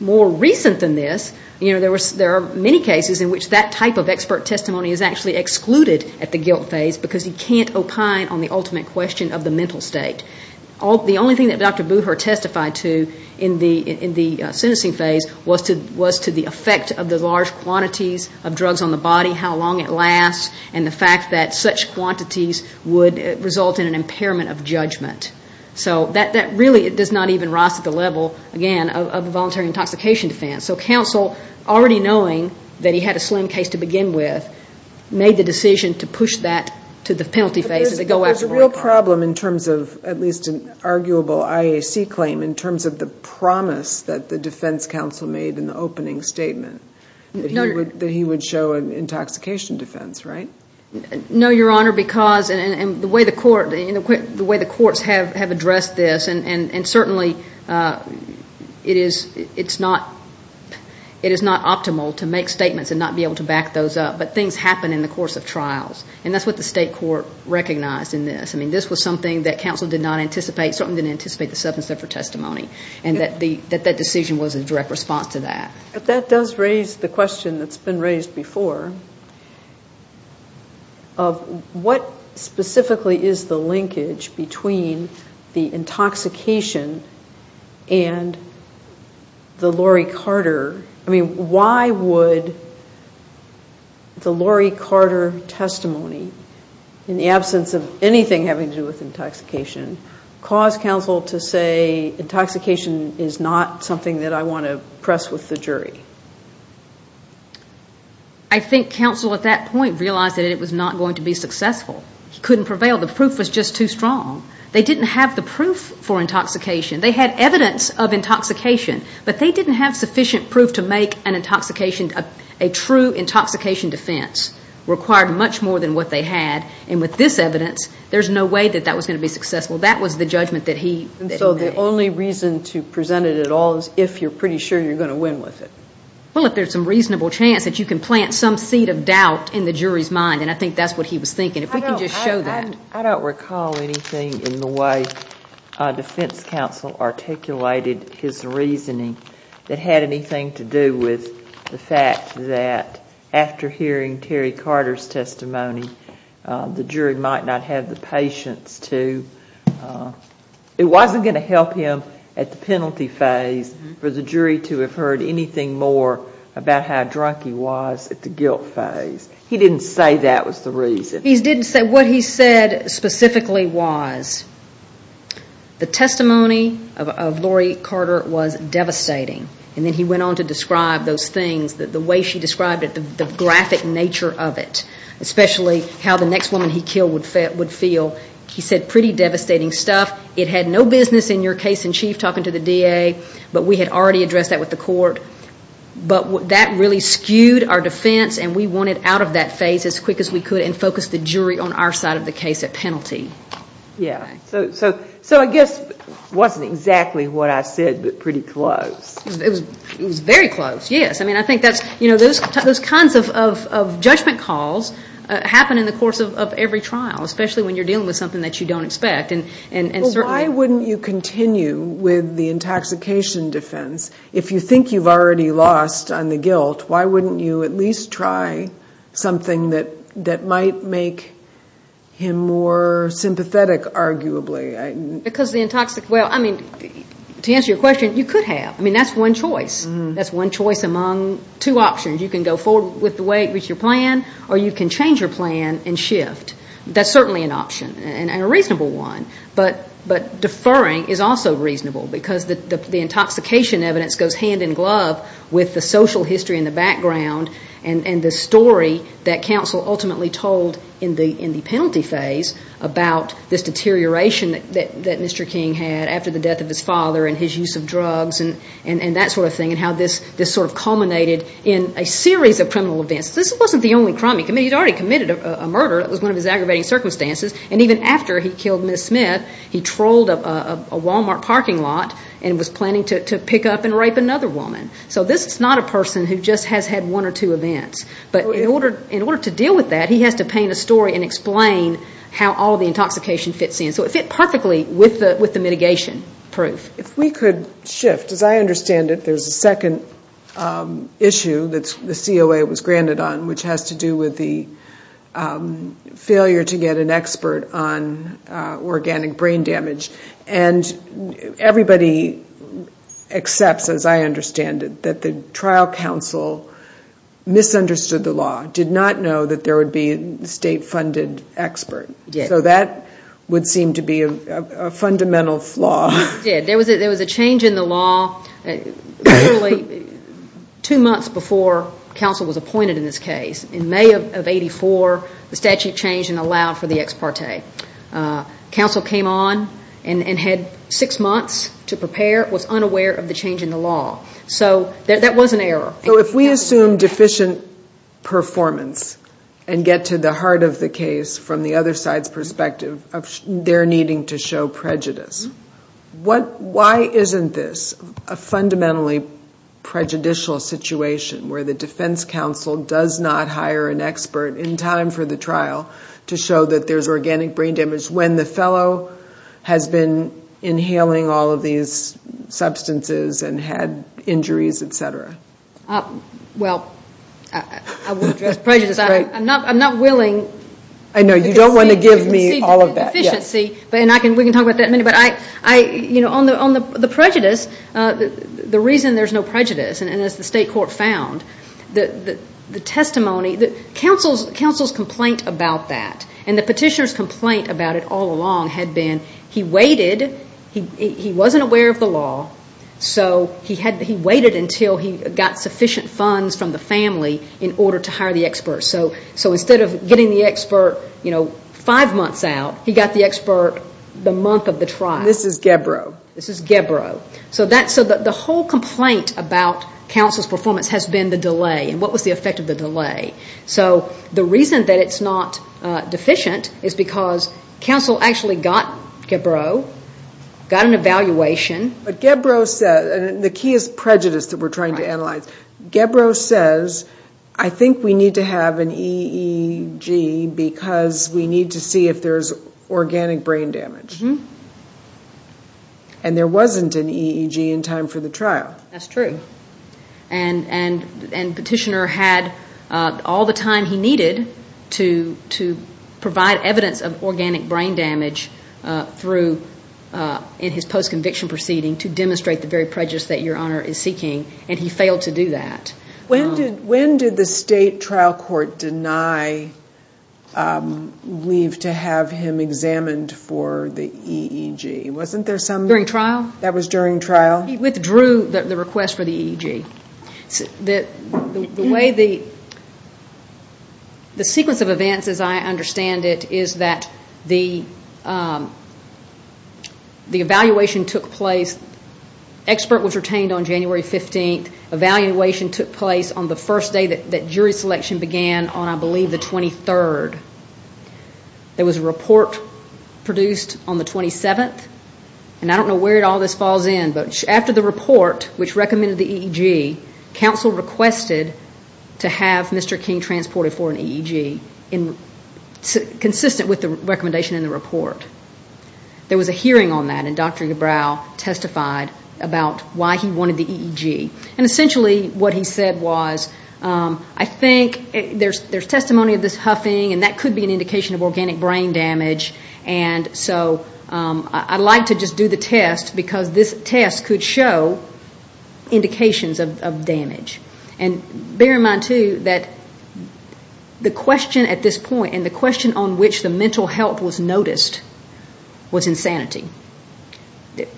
more recent than this, you know, there are many cases in which that type of expert testimony is actually excluded at the guilt phase because he can't opine on the ultimate question of the mental state. The only thing that Dr. Booher testified to in the sentencing phase was to the effect of the large quantities of drugs on the body, how long it lasts, and the fact that such quantities would result in an impairment of judgment. So that really does not even rise to the level, again, of a voluntary intoxication defense. So counsel, already knowing that he had a slim case to begin with, made the decision to push that to the penalty phase. But there's a real problem in terms of, at least an arguable IAC claim, in terms of the promise that the defense counsel made in the opening statement, that he would show an intoxication defense, right? No, Your Honor, because the way the courts have addressed this, and certainly it is not optimal to make statements and not be able to back those up, but things happen in the course of trials. And that's what the state court recognized in this. I mean, this was something that counsel did not anticipate. Something didn't anticipate the substance of her testimony, and that that decision was a direct response to that. But that does raise the question that's been raised before. What specifically is the linkage between the intoxication and the Lori Carter? I mean, why would the Lori Carter testimony, in the absence of anything having to do with intoxication, cause counsel to say, intoxication is not something that I want to press with the jury? I think counsel at that point realized that it was not going to be successful. It couldn't prevail. The proof was just too strong. They didn't have the proof for intoxication. They had evidence of intoxication, but they didn't have sufficient proof to make an intoxication, a true intoxication defense, required much more than what they had. And with this evidence, there's no way that that was going to be successful. That was the judgment that he made. So the only reason to present it at all is if you're pretty sure you're going to win with it. Well, if there's some reasonable chance that you can plant some seed of doubt in the jury's mind, and I think that's what he was thinking. If we can just show that. I don't recall anything in the way defense counsel articulated his reasoning that had anything to do with the fact that after hearing Kerry Carter's testimony, the jury might not have the patience to, it wasn't going to help him at the penalty phase for the jury to have heard anything more about how drunk he was at the guilt phase. He didn't say that was the reason. He didn't say what he said specifically was. The testimony of Lori Carter was devastating, and then he went on to describe those things, the way she described it, the graphic nature of it, especially how the next woman he killed would feel. He said pretty devastating stuff. It had no business in your case in chief talking to the DA, but we had already addressed that with the court. But that really skewed our defense, and we wanted out of that phase as quick as we could and focused the jury on our side of the case at penalty. Yeah. So I guess it wasn't exactly what I said, but pretty close. It was very close, yes. I mean, I think those kinds of judgment calls happen in the course of every trial, especially when you're dealing with something that you don't expect. Well, why wouldn't you continue with the intoxication defense? If you think you've already lost on the guilt, why wouldn't you at least try something that might make him more sympathetic, arguably? Because the intoxicant, well, I mean, to answer your question, you could have. I mean, that's one choice. That's one choice among two options. You can go forward with the way it was your plan, or you can change your plan and shift. That's certainly an option and a reasonable one. But deferring is also reasonable, because the intoxication evidence goes hand in glove with the social history in the background and the story that counsel ultimately told in the penalty phase about this deterioration that Mr. King had after the death of his father and his use of drugs and that sort of thing and how this sort of culminated in a series of criminal events. This wasn't the only crime. He'd already committed a murder. It was one of his aggravating circumstances. And even after he killed Ms. Smith, he trolled a Walmart parking lot and was planning to pick up and rape another woman. So this is not a person who just has had one or two events. But in order to deal with that, he has to paint a story and explain how all the intoxication fits in. So it fit perfectly with the mitigation proof. If we could shift. As I understand it, there's a second issue that the COA was granted on, which has to do with the failure to get an expert on organic brain damage. And everybody accepts, as I understand it, that the trial counsel misunderstood the law, did not know that there would be a state-funded expert. So that would seem to be a fundamental flaw. There was a change in the law two months before counsel was appointed in this case. In May of 84, the statute changed and allowed for the ex parte. Counsel came on and had six months to prepare, was unaware of the change in the law. So that was an error. So if we assume deficient performance and get to the heart of the case from the other side's perspective, they're needing to show prejudice. Why isn't this a fundamentally prejudicial situation where the defense counsel does not hire an expert in time for the trial to show that there's organic brain damage when the fellow has been inhaling all of these substances and had injuries, et cetera? Well, I'm not willing. You don't want to give me all of that. We can talk about that. On the prejudice, the reason there's no prejudice, and as the state court found, the testimony, counsel's complaint about that and the petitioner's complaint about it all along had been he waited, he wasn't aware of the law, so he waited until he got sufficient funds from the family in order to hire the expert. So instead of getting the expert five months out, he got the expert the month of the trial. This is Gebro. This is Gebro. So the whole complaint about counsel's performance has been the delay and what was the effect of the delay. So the reason that it's not deficient is because counsel actually got Gebro, got an evaluation. But Gebro says, and the key is prejudice that we're trying to analyze. Gebro says, I think we need to have an EEG because we need to see if there's organic brain damage. And there wasn't an EEG in time for the trial. That's true. And petitioner had all the time he needed to provide evidence of organic brain damage in his post-conviction proceeding to demonstrate the very prejudice that Your Honor is seeking, and he failed to do that. When did the state trial court deny leave to have him examined for the EEG? During trial? That was during trial? He withdrew the request for the EEG. The sequence of events as I understand it is that the evaluation took place. Expert was retained on January 15th. Evaluation took place on the first day that jury selection began on, I believe, the 23rd. There was a report produced on the 27th, and I don't know where all this falls in, but after the report which recommended the EEG, counsel requested to have Mr. King transported for an EEG consistent with the recommendation in the report. There was a hearing on that, and Dr. Dubrow testified about why he wanted the EEG. And essentially what he said was, I think there's testimony of this huffing, and that could be an indication of organic brain damage, and so I'd like to just do the test because this test could show indications of damage. And bear in mind, too, that the question at this point and the question on which the mental health was noticed was insanity.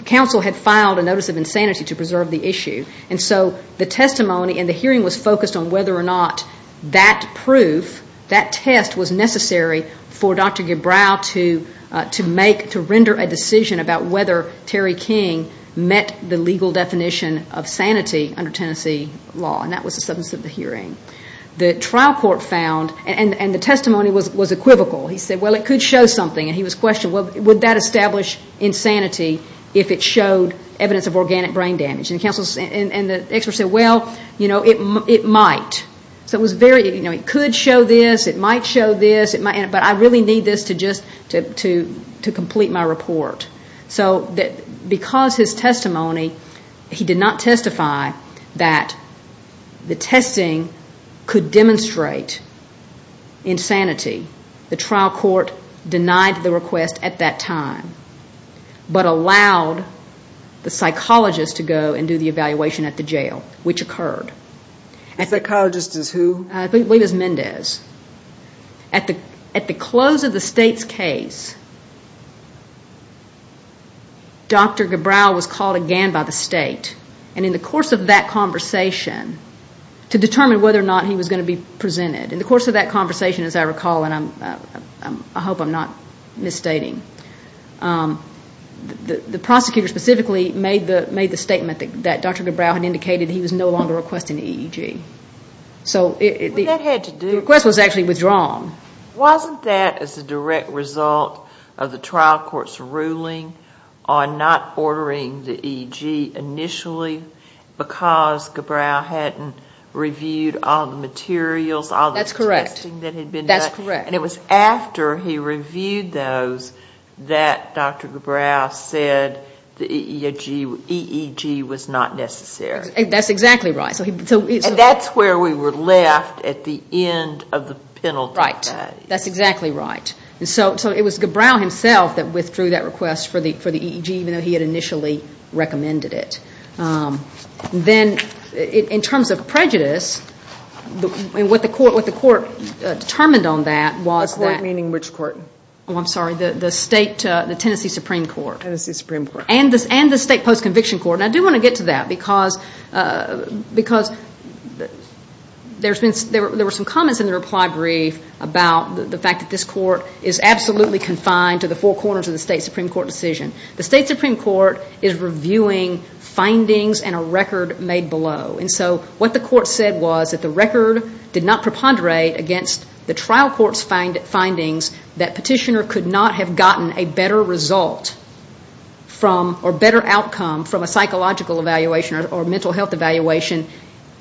Counsel had filed a notice of insanity to preserve the issue, and so the testimony and the hearing was focused on whether or not that proof, that test was necessary for Dr. Dubrow to make, to render a decision about whether Terry King met the legal definition of sanity under Tennessee law, and that was the subject of the hearing. The trial court found, and the testimony was equivocal. He said, well, it could show something, and he was questioned, well, would that establish insanity if it showed evidence of organic brain damage? And the experts said, well, it might. So it was very, you know, it could show this, it might show this, but I really need this to complete my report. So because his testimony, he did not testify that the testing could demonstrate insanity. The trial court denied the request at that time, but allowed the psychologist to go and do the evaluation at the jail, which occurred. The psychologist is who? I believe it was Mendez. At the close of the state's case, Dr. Dubrow was called again by the state, and in the course of that conversation, to determine whether or not he was going to be presented, in the course of that conversation, as I recall, and I hope I'm not misstating, the prosecutor specifically made the statement that Dr. Dubrow had indicated he was no longer requesting EEG. The request was actually withdrawn. Wasn't that as a direct result of the trial court's ruling on not ordering the EEG initially because Dubrow hadn't reviewed all the materials, all the testing that had been done? That's correct. And it was after he reviewed those that Dr. Dubrow said the EEG was not necessary. That's exactly right. And that's where we were left at the end of the penalty. Right. That's exactly right. And so it was Dubrow himself that withdrew that request for the EEG, even though he had initially recommended it. Then in terms of prejudice, what the court determined on that was that- The court meaning which court? Oh, I'm sorry, the Tennessee Supreme Court. Tennessee Supreme Court. And the state post-conviction court. And I do want to get to that because there were some comments in the reply brief about the fact that this court is absolutely confined to the four corners of the state Supreme Court decision. The state Supreme Court is reviewing findings and a record made below. And so what the court said was that the record did not preponderate against the trial court's findings that petitioner could not have gotten a better result or better outcome from a psychological evaluation or mental health evaluation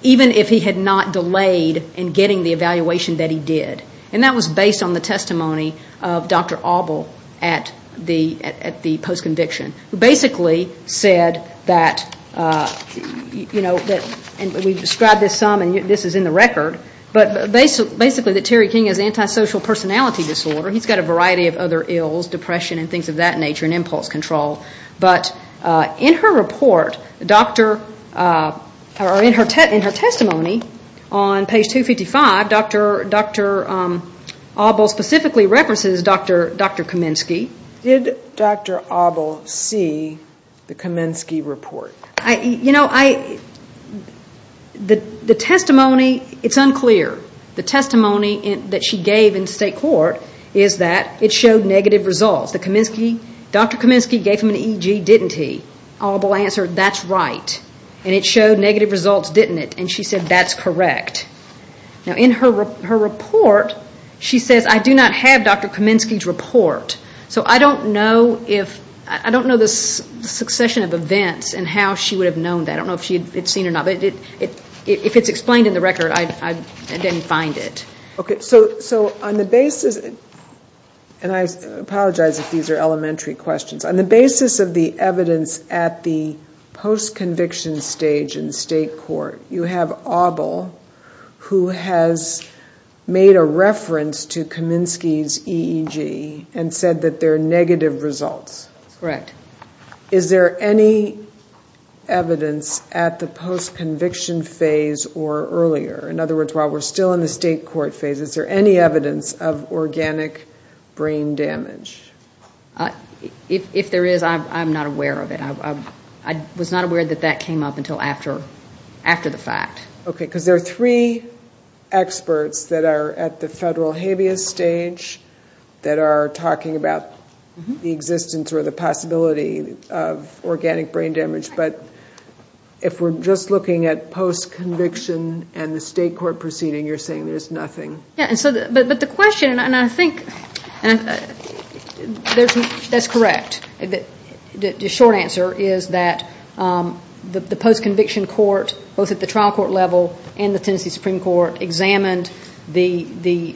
even if he had not delayed in getting the evaluation that he did. And that was based on the testimony of Dr. Auble at the post-conviction, who basically said that- and we've described this some and this is in the record- basically that Terry King has antisocial personality disorder. He's got a variety of other ills, depression and things of that nature and impulse control. But in her report, in her testimony on page 255, Dr. Auble specifically references Dr. Kaminsky. Did Dr. Auble see the Kaminsky report? You know, the testimony, it's unclear. The testimony that she gave in state court is that it showed negative results. Dr. Kaminsky gave him an EG, didn't he? Auble answered, that's right. And it showed negative results, didn't it? And she said, that's correct. Now in her report, she says, I do not have Dr. Kaminsky's report. So I don't know if- I don't know the succession of events and how she would have known that. I don't know if she had seen it or not. But if it's explained in the record, I didn't find it. Okay, so on the basis- and I apologize if these are elementary questions. On the basis of the evidence at the post-conviction stage in state court, you have Auble who has made a reference to Kaminsky's EG and said that there are negative results. Correct. Is there any evidence at the post-conviction phase or earlier? In other words, while we're still in the state court phase, is there any evidence of organic brain damage? If there is, I'm not aware of it. I was not aware that that came up until after the fact. Okay, because there are three experts that are at the federal habeas stage that are talking about the existence or the possibility of organic brain damage. But if we're just looking at post-conviction and the state court proceeding, you're saying there's nothing. But the question, and I think- That's correct. The short answer is that the post-conviction court, both at the trial court level and the Tennessee Supreme Court, examined the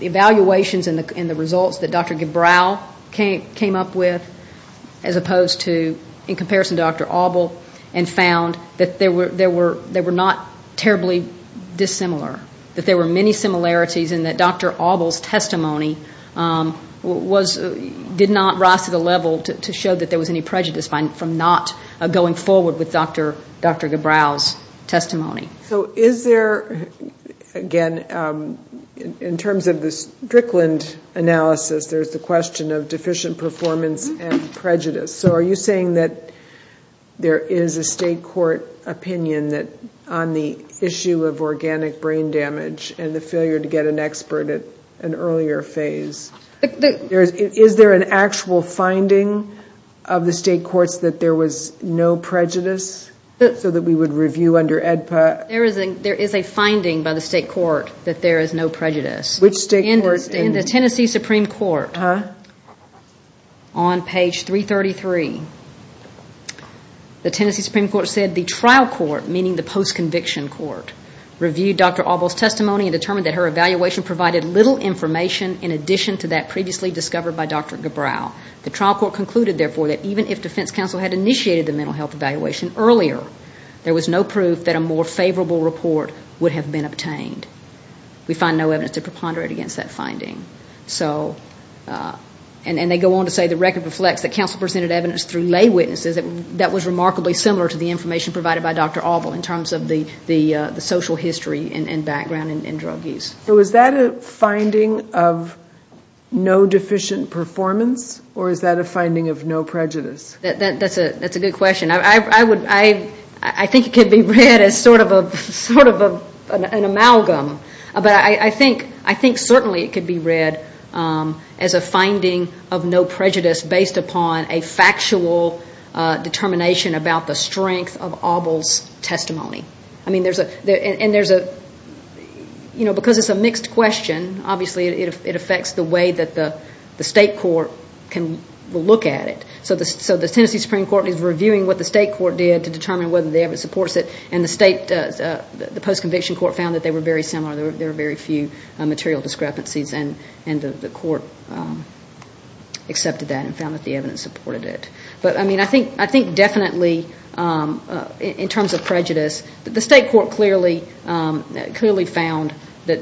evaluations and the results that Dr. Gibral came up with as opposed to, in comparison to Dr. Auble, and found that they were not terribly dissimilar, that there were many similarities, and that Dr. Auble's testimony did not rise to the level to show that there was any prejudice from not going forward with Dr. Gibral's testimony. So is there, again, in terms of the Strickland analysis, there's the question of deficient performance and prejudice. So are you saying that there is a state court opinion on the issue of organic brain damage and the failure to get an expert at an earlier phase? Is there an actual finding of the state courts that there was no prejudice, so that we would review under AEDPA? There is a finding by the state court that there is no prejudice. Which state court? In the Tennessee Supreme Court, on page 333, the Tennessee Supreme Court said, the trial court, meaning the post-conviction court, reviewed Dr. Auble's testimony and determined that her evaluation provided little information in addition to that previously discovered by Dr. Gibral. The trial court concluded, therefore, that even if defense counsel had initiated the mental health evaluation earlier, there was no proof that a more favorable report would have been obtained. We find no evidence to preponderate against that finding. And they go on to say the record reflects that counsel presented evidence through lay witnesses and that was remarkably similar to the information provided by Dr. Auble in terms of the social history and background in drug use. So is that a finding of no deficient performance or is that a finding of no prejudice? That's a good question. I think it could be read as sort of an amalgam, but I think certainly it could be read as a finding of no prejudice based upon a factual determination about the strength of Auble's testimony. Because it's a mixed question, obviously it affects the way that the state court can look at it. So the Tennessee Supreme Court is reviewing what the state court did to determine whether the evidence supports it and the post-conviction court found that they were very similar. There were very few material discrepancies and the court accepted that and found that the evidence supported it. But I think definitely in terms of prejudice, the state court clearly found that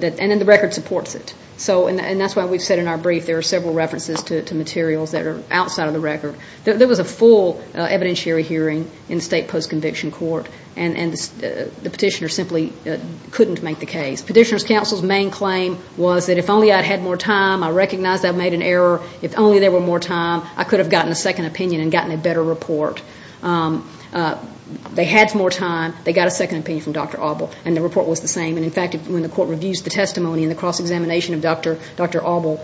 the record supports it. And that's why we've said in our brief there are several references to materials that are outside of the record. There was a full evidentiary hearing in the state post-conviction court and the petitioner simply couldn't make the case. Petitioner's counsel's main claim was that if only I had more time, I recognized I made an error, if only there were more time, I could have gotten a second opinion and gotten a better report. They had more time, they got a second opinion from Dr. Auble and the report was the same. In fact, when the court reviews the testimony and the cross-examination of Dr. Auble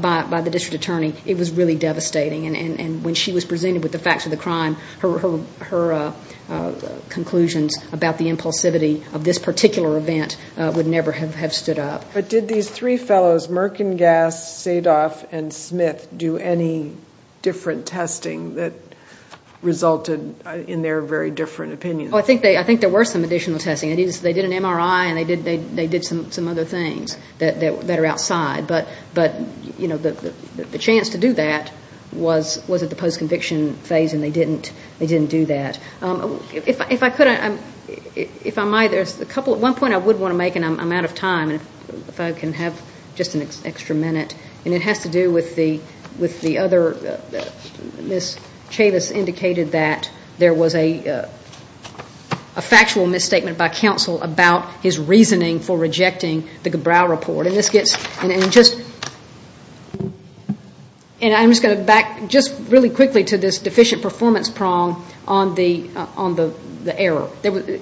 by the district attorney, it was really devastating. And when she was presented with the facts of the crime, her conclusions about the impulsivity of this particular event would never have stood up. But did these three fellows, Merkengass, Sadoff, and Smith, do any different testing that resulted in their very different opinions? I think there were some additional testing. They did an MRI and they did some other things that are outside. But the chance to do that was at the post-conviction phase and they didn't do that. If I could, if I might, one point I would want to make, and I'm out of time, if I can have just an extra minute, and it has to do with the other, Ms. Chavis indicated that there was a factual misstatement by counsel about his reasoning for rejecting the Gebrau report. And I'm just going to back just really quickly to this deficient performance prong on the error.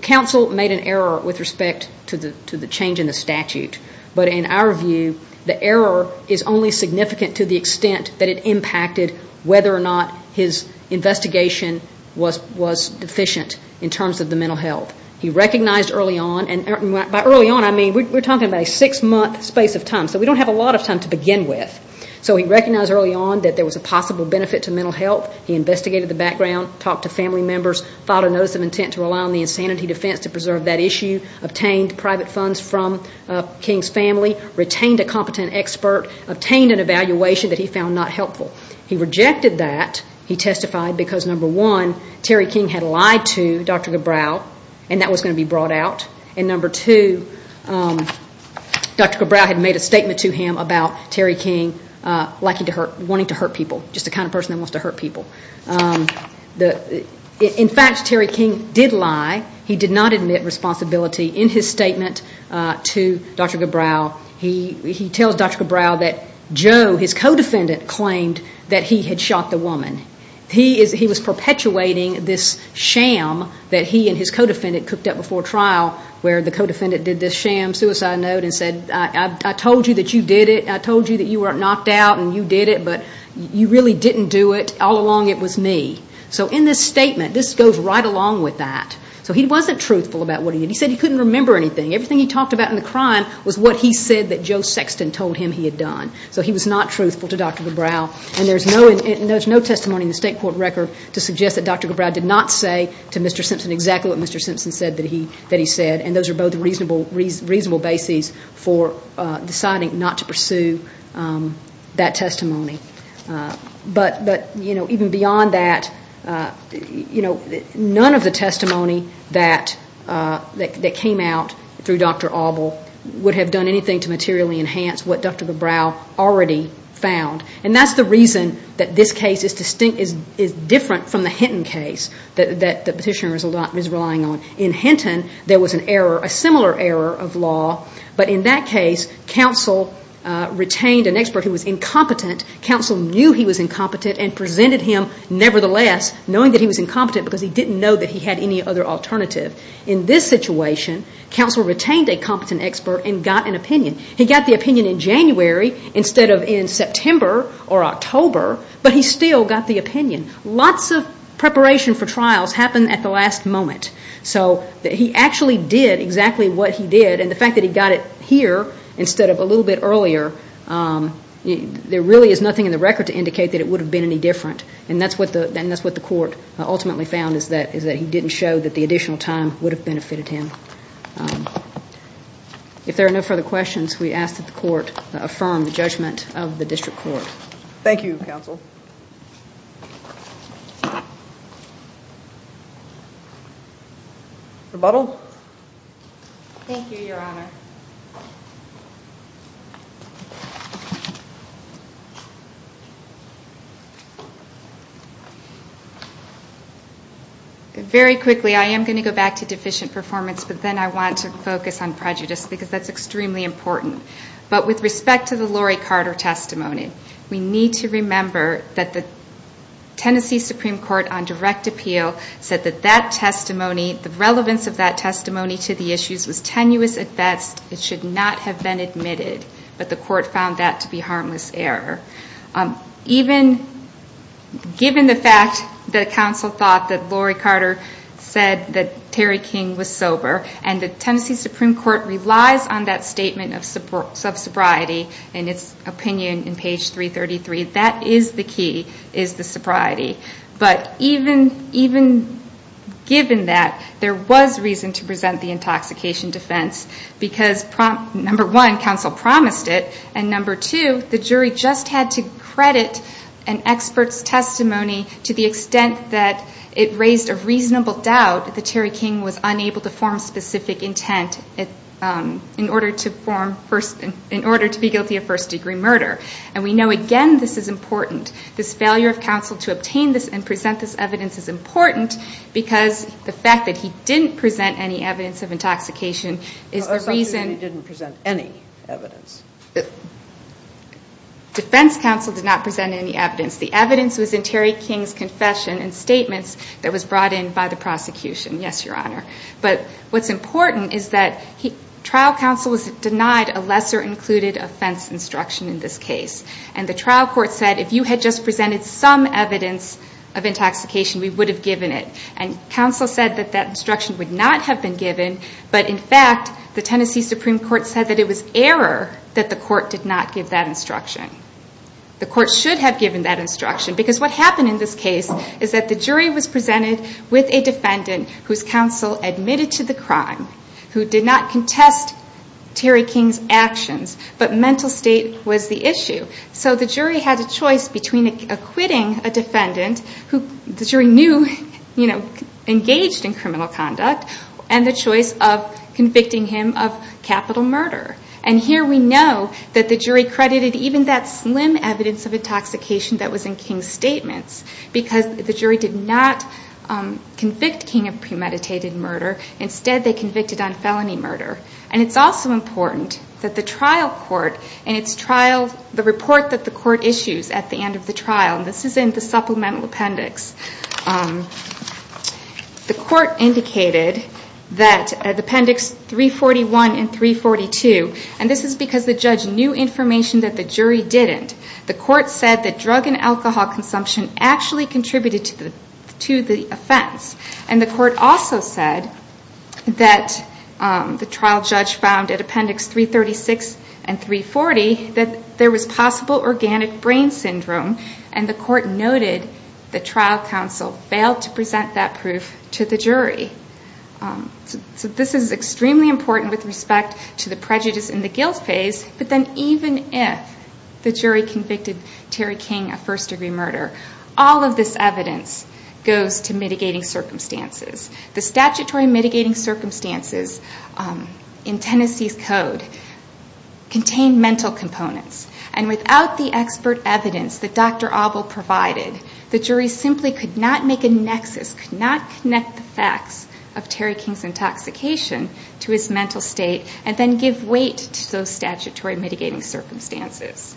Counsel made an error with respect to the change in the statute. But in our view, the error is only significant to the extent that it impacted whether or not his investigation was deficient in terms of the mental health. He recognized early on, and by early on, I mean we're talking about a six-month space of time, so we don't have a lot of time to begin with. So he recognized early on that there was a possible benefit to mental health. He investigated the background, talked to family members, thought of notice of intent to rely on the insanity defense to preserve that issue, obtained private funds from King's family, retained a competent expert, obtained an evaluation that he found not helpful. He rejected that. He testified because, number one, Terry King had lied to Dr. Gebrau, and that was going to be brought out. And number two, Dr. Gebrau had made a statement to him about Terry King wanting to hurt people, just the kind of person who wants to hurt people. In fact, Terry King did lie. He did not admit responsibility in his statement to Dr. Gebrau. He tells Dr. Gebrau that Joe, his co-defendant, claimed that he had shot the woman. He was perpetuating this sham that he and his co-defendant cooked up before trial where the co-defendant did this sham suicide note and said, I told you that you did it, I told you that you were knocked out and you did it, but you really didn't do it. All along it was me. So in this statement, this goes right along with that. So he wasn't truthful about what he did. He said he couldn't remember anything. Everything he talked about in the crime was what he said that Joe Sexton told him he had done. So he was not truthful to Dr. Gebrau, and there's no testimony in the state court record to suggest that Dr. Gebrau did not say to Mr. Simpson exactly what Mr. Simpson said that he said, and those are both reasonable bases for deciding not to pursue that testimony. But even beyond that, none of the testimony that came out through Dr. Auble would have done anything to materially enhance what Dr. Gebrau already found, and that's the reason that this case is different from the Hinton case that the petitioner is relying on. In Hinton, there was a similar error of law, but in that case, counsel retained an expert who was incompetent. Counsel knew he was incompetent and presented him nevertheless, knowing that he was incompetent because he didn't know that he had any other alternative. In this situation, counsel retained a competent expert and got an opinion. He got the opinion in January instead of in September or October, but he still got the opinion. Lots of preparation for trials happened at the last moment. He actually did exactly what he did, and the fact that he got it here instead of a little bit earlier, there really is nothing in the record to indicate that it would have been any different, and that's what the court ultimately found, is that he didn't show that the additional time would have benefited him. If there are no further questions, we ask that the court affirm the judgment of the district court. Thank you, counsel. Rebuttal? Thank you, Your Honor. Very quickly, I am going to go back to deficient performance, but then I want to focus on prejudice because that's extremely important. But with respect to the Lori Carter testimony, we need to remember that the Tennessee Supreme Court, on direct appeal, said that that testimony, the relevance of that testimony to the issues was tenuous at best. It should not have been admitted, but the court found that to be harmless error. Even given the fact that counsel thought that Lori Carter said that Terry King was sober, and the Tennessee Supreme Court relies on that statement of sobriety in its opinion in page 333, that is the key, is the sobriety. But even given that, there was reason to present the intoxication defense, because number one, counsel promised it, and number two, the jury just had to credit an expert's testimony to the extent that it raised a reasonable doubt that Terry King was unable to form specific intent in order to be guilty of first-degree murder. And we know, again, this is important. This failure of counsel to obtain this and present this evidence is important because the fact that he didn't present any evidence of intoxication is reason... Or the fact that he didn't present any evidence. Defense counsel did not present any evidence. The evidence was in Terry King's confession and statements that was brought in by the prosecution. Yes, Your Honor. But what's important is that trial counsel denied a lesser-included offense instruction in this case, and the trial court said if you had just presented some evidence of intoxication, we would have given it. And counsel said that that instruction would not have been given, but in fact the Tennessee Supreme Court said that it was error that the court did not give that instruction. The court should have given that instruction because what happened in this case is that the jury was presented with a defendant whose counsel admitted to the crime, who did not contest Terry King's actions, but mental state was the issue. So the jury had a choice between acquitting a defendant who the jury knew engaged in criminal conduct and the choice of convicting him of capital murder. And here we know that the jury credited even that slim evidence of intoxication that was in King's statement because the jury did not convict King of premeditated murder. Instead, they convicted on felony murder. And it's also important that the trial court in its trial... The report that the court issues at the end of the trial, and this is in the supplemental appendix, the court indicated that at appendix 341 and 342, and this is because the judge knew information that the jury didn't, the court said that drug and alcohol consumption actually contributed to the offense. And the court also said that the trial judge found at appendix 336 and 340 that there was possible organic brain syndrome, and the court noted the trial counsel failed to present that proof to the jury. So this is extremely important with respect to the prejudice and the guilt phase, but then even if the jury convicted Terry King of first-degree murder, all of this evidence goes to mitigating circumstances. The statutory mitigating circumstances in Tennessee's code contain mental components, and without the expert evidence that Dr. Auble provided, the jury simply could not make a nexus, could not connect the facts of Terry King's intoxication to his mental state and then give weight to those statutory mitigating circumstances.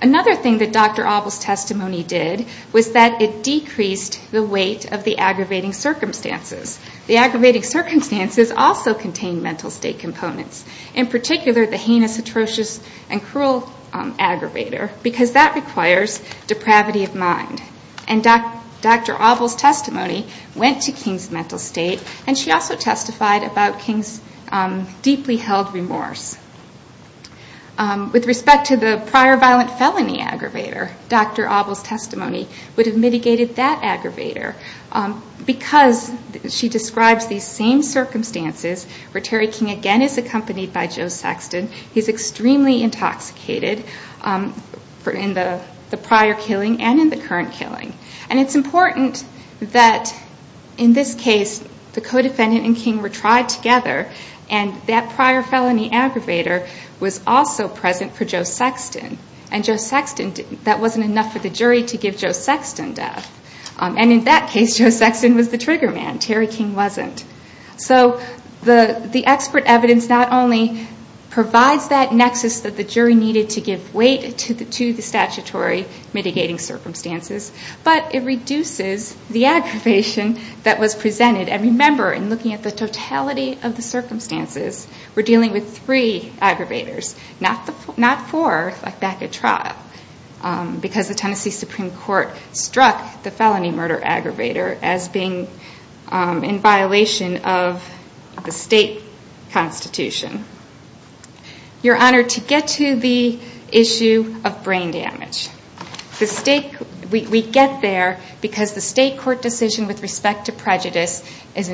Another thing that Dr. Auble's testimony did was that it decreased the weight of the aggravating circumstances. The aggravating circumstances also contain mental state components. In particular, the heinous, atrocious, and cruel aggravator, because that requires depravity of mind. And Dr. Auble's testimony went to King's mental state, and she also testified about King's deeply held remorse. With respect to the prior violent felony aggravator, Dr. Auble's testimony would have mitigated that aggravator Because she described the same circumstances where Terry King again is accompanied by Joe Sexton, he's extremely intoxicated in the prior killing and in the current killing. And it's important that in this case, the co-defendant and King were tried together, and that prior felony aggravator was also present for Joe Sexton. And Joe Sexton, that wasn't enough for the jury to give Joe Sexton that. And in that case, Joe Sexton was the trigger man. Terry King wasn't. So the expert evidence not only provides that nexus that the jury needed to give weight to the statutory mitigating circumstances, but it reduces the aggravation that was presented. And remember, in looking at the totality of the circumstances, we're dealing with three aggravators, not four, like back at trial, because the Tennessee Supreme Court struck the felony murder aggravator as being in violation of the state constitution. You're honored to get to the issue of brain damage. We get there because the state court decision with respect to prejudice is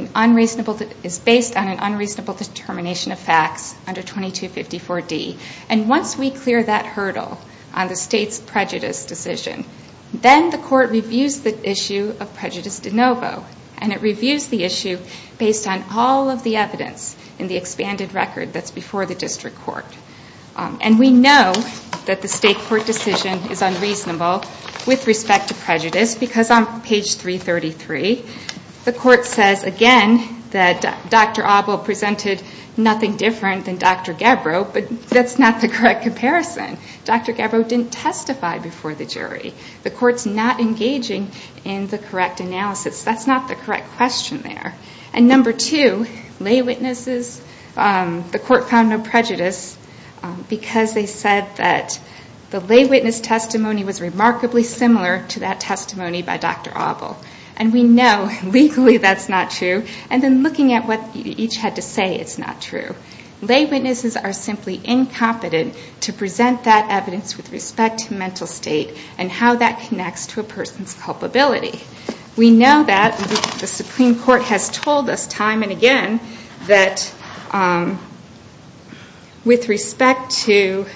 based on an unreasonable determination of facts under 2254D. And once we clear that hurdle on the state's prejudice decision, then the court reviews the issue of prejudice de novo. And it reviews the issue based on all of the evidence in the expanded record that's before the district court. And we know that the state court decision is unreasonable with respect to prejudice because on page 333, the court says again that Dr. Abel presented nothing different than Dr. Gabbro, but that's not the correct comparison. Dr. Gabbro didn't testify before the jury. The court's not engaging in the correct analysis. That's not the correct question there. And number two, lay witnesses. The court found no prejudice because they said that the lay witness testimony was remarkably similar to that testimony by Dr. Abel. And we know legally that's not true. And then looking at what each had to say, it's not true. Lay witnesses are simply incompetent to present that evidence with respect to mental state and how that connects to a person's culpability. We know that. The Supreme Court has told us time and again that with respect to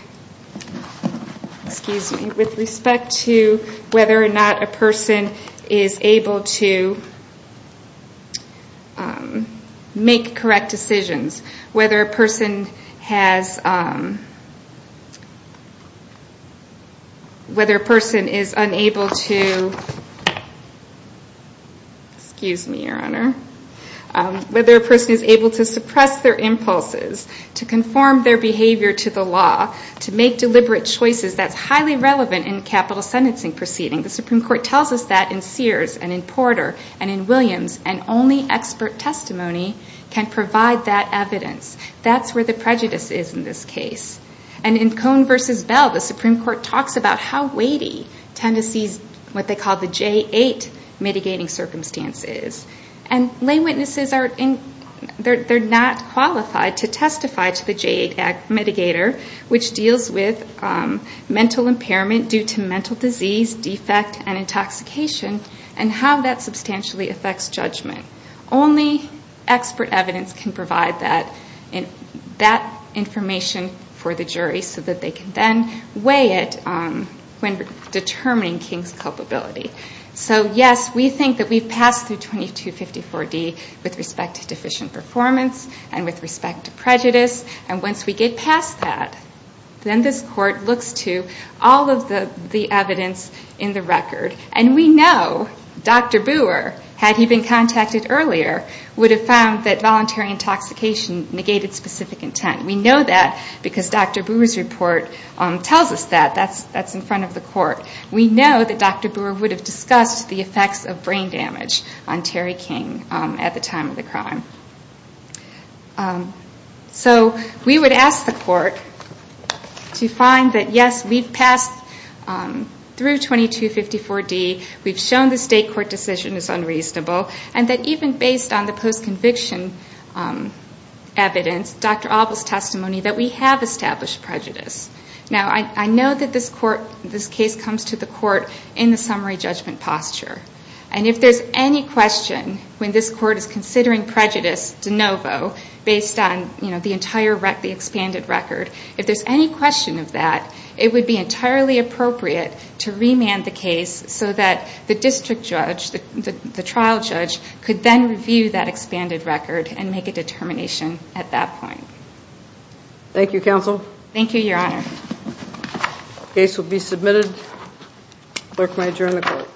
whether or not a person is able to make correct decisions, whether a person is able to suppress their impulses, to conform their behavior to the law, to make deliberate choices, that's highly relevant in capital sentencing proceedings. And the Supreme Court tells us that in Sears and in Porter and in Williams, and only expert testimony can provide that evidence. That's where the prejudice is in this case. And in Cohn v. Bell, the Supreme Court talked about how weighty Tennessee's what they call the J-8 mitigating circumstance is. And lay witnesses are not qualified to testify to the J-8 mitigator, which deals with mental impairment due to mental disease, defect, and intoxication, and how that substantially affects judgment. Only expert evidence can provide that information for the jury so that they can then weigh it when determining King's culpability. So, yes, we think that we've passed through 2254D with respect to deficient performance and with respect to prejudice. And once we get past that, then this Court looks to all of the evidence in the record. And we know Dr. Booher, had he been contacted earlier, would have found that voluntary intoxication negated specific intent. We know that because Dr. Booher's report tells us that. That's in front of the Court. We know that Dr. Booher would have discussed the effects of brain damage on Terry King at the time of the crime. So, we would ask the Court to find that, yes, we've passed through 2254D. We've shown the State Court decision is unreasonable. And that even based on the post-conviction evidence, Dr. Alba's testimony, that we have established prejudice. Now, I know that this case comes to the Court in the summary judgment posture. And if there's any question when this Court is considering prejudice de novo, based on the entire expanded record, if there's any question of that, it would be entirely appropriate to remand the case so that the district judge, the trial judge, could then review that expanded record and make a determination at that point. Thank you, Counsel. Thank you, Your Honor. The case will be submitted. Clerk may adjourn the Court.